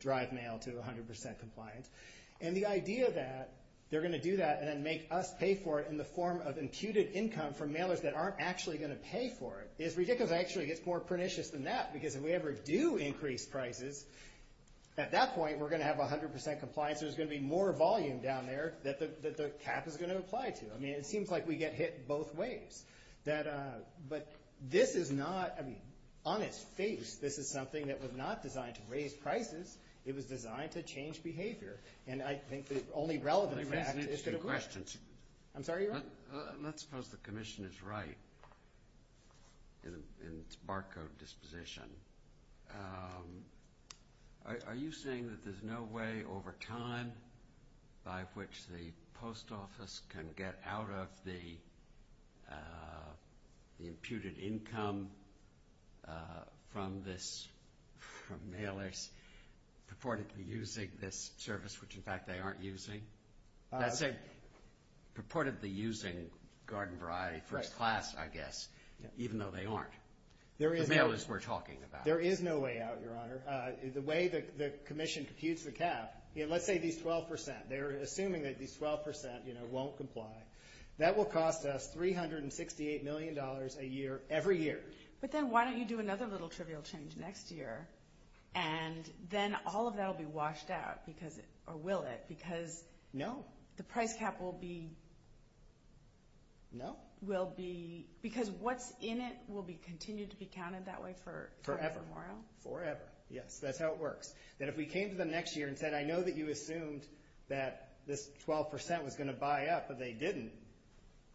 drive mail to 100% compliance. And the idea that they're going to do that and then make us pay for it in the form of imputed income for mailers that aren't actually going to pay for it is ridiculous. Actually, it's more pernicious than that, because if we ever do increase prices, at that point, we're going to have 100% compliance. There's going to be more volume down there that the cap is going to apply to. I mean, it seems like we get hit both ways. But this is not ‑‑ I mean, on its face, this is something that was not designed to raise prices. It was designed to change behavior. And I think the only relevant fact is ‑‑ I have two questions. I'm sorry. Go ahead. Let's suppose the Commission is right in its barcode disposition. Are you saying that there's no way over time by which the post office can get out of the imputed income from mailers purportedly using this service, which, in fact, they aren't using? That's a purportedly using garden variety for a class, I guess, even though they aren't. The mailers we're talking about. There is no way out, Your Honor. The way the Commission confused the cap, let's say these 12%. They're assuming that these 12% won't comply. That will cost us $368 million a year every year. But then why don't you do another little trivial change next year, and then all of that will be washed out, or will it? No. Because the price cap will be ‑‑ No. Because what's in it will continue to be counted that way forever. Forever. Yes, that's how it works. Then if we came to them next year and said, I know that you assumed that this 12% was going to buy up, but they didn't,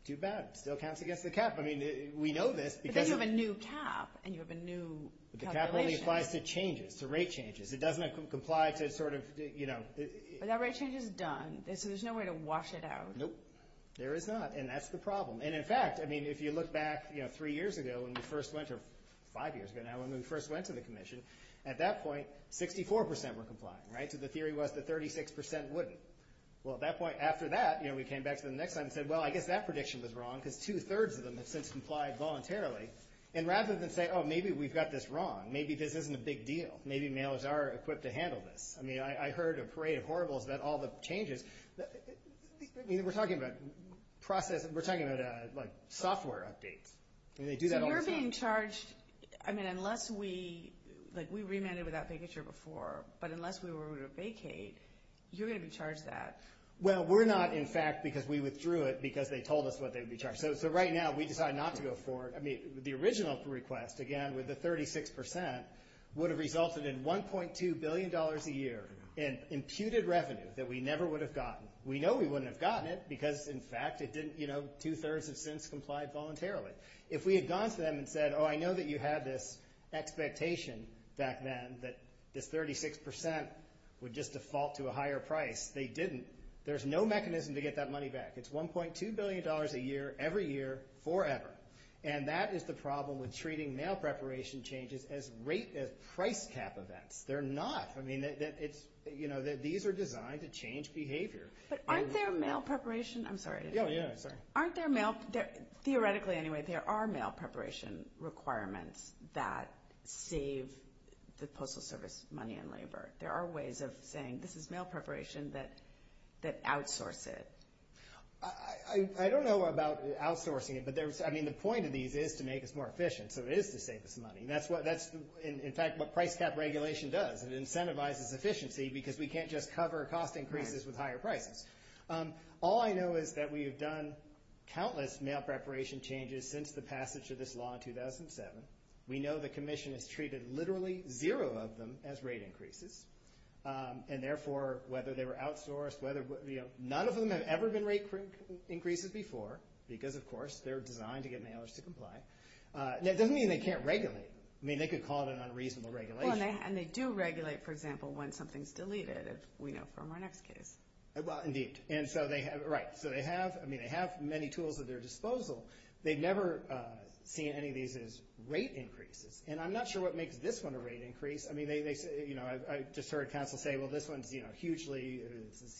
too bad. It still counts against the cap. I mean, we know this. But then you have a new cap, and you have a new calculation. The cap only applies to changes, to rate changes. It doesn't comply to sort of, you know ‑‑ But that rate change is done, so there's no way to wash it out. Nope. There is not, and that's the problem. And, in fact, I mean, if you look back, you know, three years ago, when we first went to ‑‑ five years ago now, when we first went to the convention, at that point, 64% were complying, right? So the theory was that 36% wouldn't. Well, at that point, after that, you know, we came back to them the next time and said, well, I guess that prediction was wrong, because two‑thirds of them have since complied voluntarily. And rather than say, oh, maybe we've got this wrong, maybe this isn't a big deal, maybe mailers are equipped to handle this. I mean, I heard a parade of horribles about all the changes. I mean, we're talking about processes. We're talking about, like, software updates. And they do that all the time. But you're being charged, I mean, unless we ‑‑ like, we remanded without vacature before, but unless we were to vacate, you're going to be charged that. Well, we're not, in fact, because we withdrew it because they told us what they would be charged. So right now, we decide not to go forward. I mean, the original request, again, with the 36%, would have resulted in $1.2 billion a year in imputed revenue that we never would have gotten. We know we wouldn't have gotten it, because, in fact, it didn't, you know, two‑thirds of students complied voluntarily. If we had gone to them and said, oh, I know that you had this expectation back then that the 36% would just default to a higher price, they didn't. There's no mechanism to get that money back. It's $1.2 billion a year, every year, forever. And that is the problem with treating mail preparation changes as price cap events. They're not. You know, these are designed to change behavior. But aren't there mail preparation ‑‑ I'm sorry. Yeah, yeah, sorry. Aren't there mail ‑‑ theoretically, anyway, there are mail preparation requirements that save the Postal Service money and labor. There are ways of saying this is mail preparation that outsources. I don't know about outsourcing it, but, I mean, the point of these is to make us more efficient, so it is to save us money. And that's, in fact, what price cap regulation does. It incentivizes efficiency because we can't just cover cost increases with higher prices. All I know is that we have done countless mail preparation changes since the passage of this law in 2007. We know the Commission has treated literally zero of them as rate increases. And, therefore, whether they were outsourced, none of them have ever been rate increases before because, of course, they're designed to get mailers to comply. That doesn't mean they can't regulate. I mean, they could call it an unreasonable regulation. And they do regulate, for example, when something is deleted, as we know from our next case. Indeed. Right. So they have many tools at their disposal. They've never seen any of these as rate increases. And I'm not sure what makes this one a rate increase. I mean, I just heard Council say, well, this one is a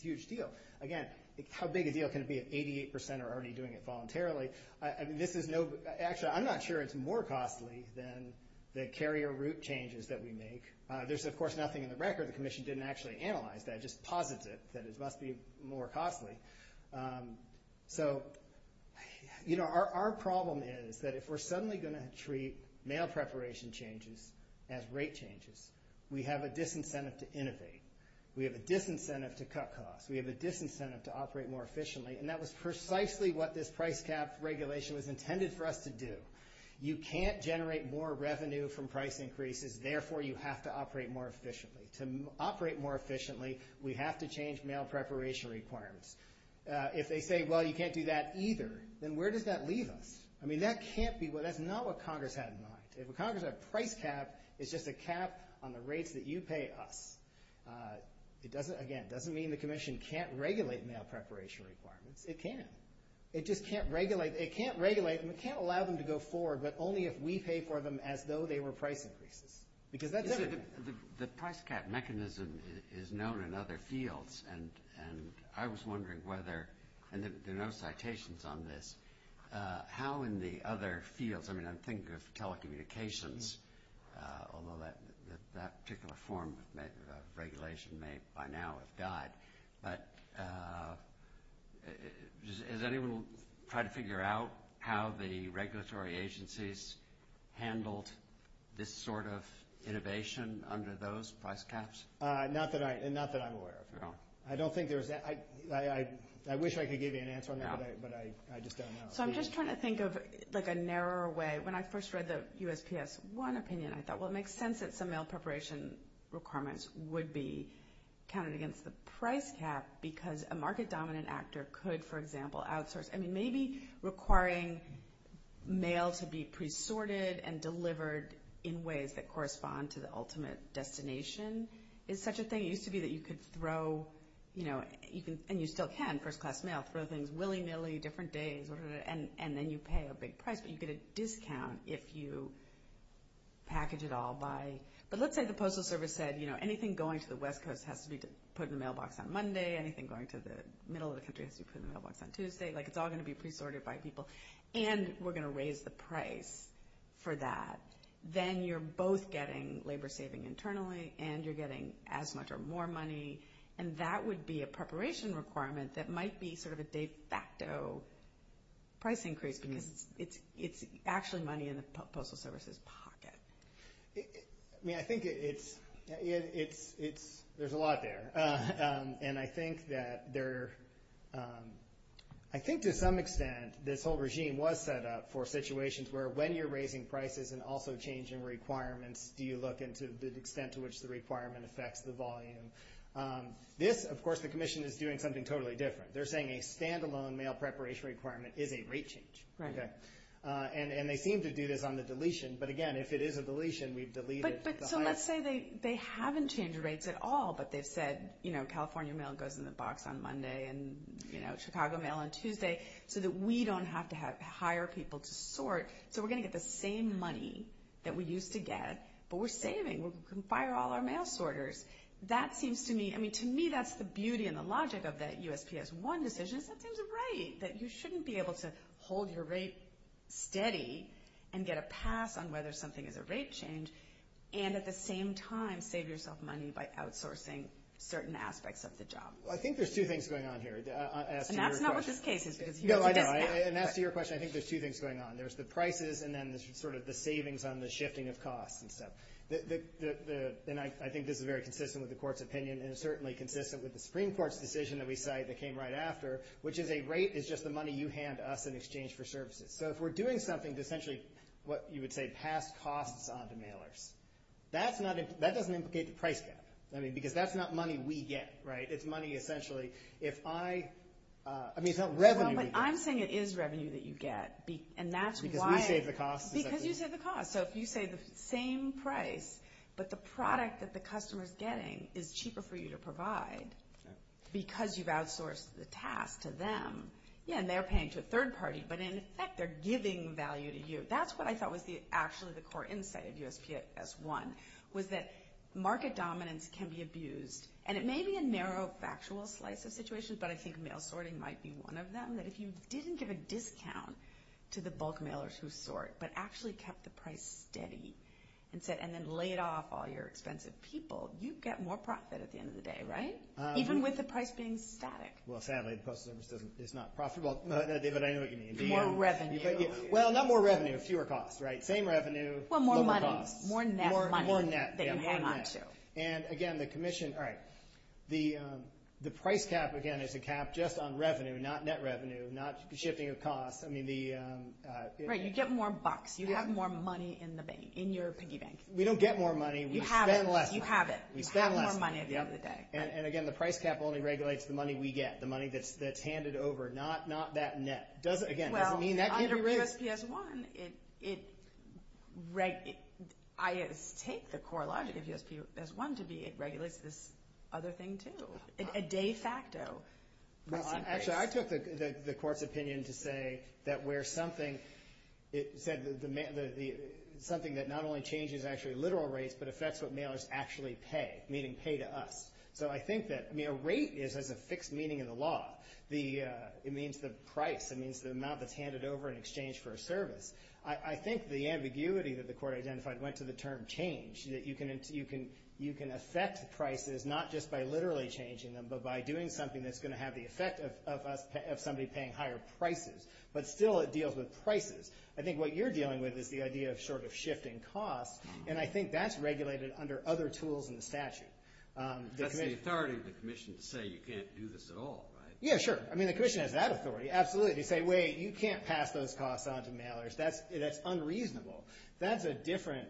huge deal. Again, how big a deal can it be if 88% are already doing it voluntarily? Actually, I'm not sure it's more costly than the carrier route changes that we make. There's, of course, nothing in the record. The Commission didn't actually analyze that, just posited that it must be more costly. So, you know, our problem is that if we're suddenly going to treat mail preparation changes as rate changes, we have a disincentive to innovate. We have a disincentive to cut costs. We have a disincentive to operate more efficiently. And that was precisely what this price cap regulation was intended for us to do. You can't generate more revenue from price increases. Therefore, you have to operate more efficiently. To operate more efficiently, we have to change mail preparation requirements. If they say, well, you can't do that either, then where does that leave us? I mean, that can't be what – that's not what Congress had in mind. If Congress had a price cap, it's just a cap on the rates that you pay us. It doesn't – again, it doesn't mean the Commission can't regulate mail preparation requirements. It can. It just can't regulate – it can't regulate – I mean, it can't allow them to go forward, but only if we pay for them as though they were price increases, because that's different. The price cap mechanism is known in other fields, and I was wondering whether – and there are no citations on this – how in the other fields – I mean, I'm thinking of telecommunications, although that particular form of regulation may by now have died. But has anyone tried to figure out how the regulatory agencies handled this sort of innovation under those price caps? Not that I'm aware of. I don't think there's – I wish I could give you an answer on that, but I just don't know. So I'm just trying to think of like a narrower way. When I first read the USPS-1 opinion, I thought, well, it makes sense that some mail preparation requirements would be counted against the price cap, because a market-dominant actor could, for example, outsource – I mean, maybe requiring mail to be pre-sorted and delivered in ways that correspond to the ultimate destination is such a thing. It used to be that you could throw – and you still can, first-class mail – throw things willy-nilly, different days, and then you pay a big price, but you get a discount if you package it all by – but let's say the Postal Service said, you know, anything going to the West Coast has to be put in the mailbox on Monday, anything going to the middle of the country has to be put in the mailbox on Tuesday. Like, it's all going to be pre-sorted by people, and we're going to raise the price for that. Then you're both getting labor-saving internally, and you're getting as much or more money, and that would be a preparation requirement that might be sort of a de facto price increase, because it's actually money in the Postal Service's pocket. I mean, I think it's – there's a lot there, and I think that there – I think to some extent this whole regime was set up for situations where, when you're raising prices and also changing requirements, you look into the extent to which the requirement affects the volume. This, of course, the Commission is doing something totally different. They're saying a standalone mail preparation requirement is a rate change. Right. And they seem to do this on the deletion, but again, if it is a deletion, we've deleted the higher – But so let's say they haven't changed rates at all, but they've said, you know, California mail goes in the box on Monday and, you know, Chicago mail on Tuesday, so that we don't have to have to hire people to sort, so we're going to get the same money that we used to get, but we're saving. We can fire all our mail sorters. That seems to me – I mean, to me, that's the beauty and the logic of that USPS-1 decision. It's that there's a rate, that you shouldn't be able to hold your rate steady and get a pass on whether something is a rate change, and at the same time save yourself money by outsourcing certain aspects of the job. Well, I think there's two things going on here. And that's not what this case is. No, I know. And as to your question, I think there's two things going on. There's the prices and then sort of the savings on the shifting of costs and stuff. And I think this is very consistent with the Court's opinion and is certainly consistent with the Supreme Court's decision that we cite that came right after, which is a rate is just the money you hand us in exchange for services. So if we're doing something essentially what you would say pass costs on to mailers, that doesn't indicate the price gap, because that's not money we get, right? It's money essentially if I – I mean, it's not revenue we get. No, but I'm saying it is revenue that you get, and that's why – Because we save the cost. Because you save the cost. So if you save the same price, but the product that the customer is getting is cheaper for you to provide because you've outsourced the task to them, and they're paying to a third party, but in effect they're giving value to you. That's what I thought was actually the core insight of U.S.C.S. 1, was that market dominance can be abused. And it may be a narrow factual slice of situations, but I think mail sorting might be one of them, that if you didn't give a discount to the bulk mailers who sort, but actually kept the price steady and then laid off all your expensive people, you'd get more profit at the end of the day, right? Even with the price being static. Well, sadly, it's not profit. Well, David, I know what you mean. More revenue. Well, not more revenue. Fewer costs, right? Same revenue. Well, more money. More net money that you hang on to. And, again, the price cap, again, is a cap just on revenue, not net revenue, not shipping of costs. Right, you get more bucks. You have more money in your piggy bank. We don't get more money. You have it. You have more money at the end of the day. And, again, the price cap only regulates the money we get, the money that's handed over, not that net. Well, under U.S.C.S. 1, I take the core logic of U.S.C.S. 1 to be it regulates this other thing, too. It's a de facto. Actually, I took the court's opinion to say that where something that not only changes actually literal rates, but affects what mailers actually pay, meaning pay to us. So I think that rate has a fixed meaning in the law. It means the price. It means the amount that's handed over in exchange for a service. I think the ambiguity that the court identified went to the term change, that you can assess prices not just by literally changing them, but by doing something that's going to have the effect of somebody paying higher prices. But still it deals with prices. I think what you're dealing with is the idea of sort of shifting costs, and I think that's regulated under other tools in the statute. But the authority of the commission to say you can't do this at all, right? Yeah, sure. I mean, the commission has that authority, absolutely, to say, wait, you can't pass those costs on to mailers. That's unreasonable. That's a different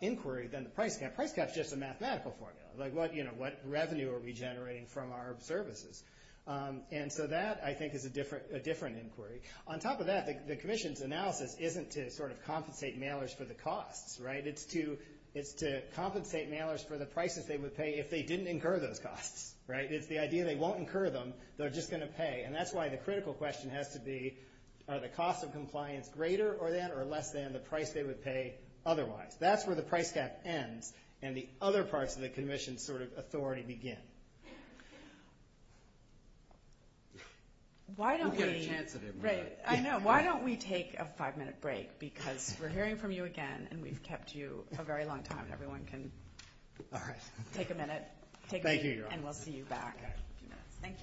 inquiry than the price cap. Price cap is just a mathematical formula, like what revenue are we generating from our services. And so that, I think, is a different inquiry. On top of that, the commission's analysis isn't to sort of compensate mailers for the costs, right? It's to compensate mailers for the prices they would pay if they didn't incur those costs, right? It's the idea they won't incur them, they're just going to pay. And that's why the critical question has to be the cost of compliance greater or less than the price they would pay otherwise. That's where the price cap ends and the other parts of the commission's sort of authority begin. Why don't we take a five-minute break because we're hearing from you again, and we've kept you a very long time. Everyone can take a minute. Thank you. And we'll see you back. Thank you.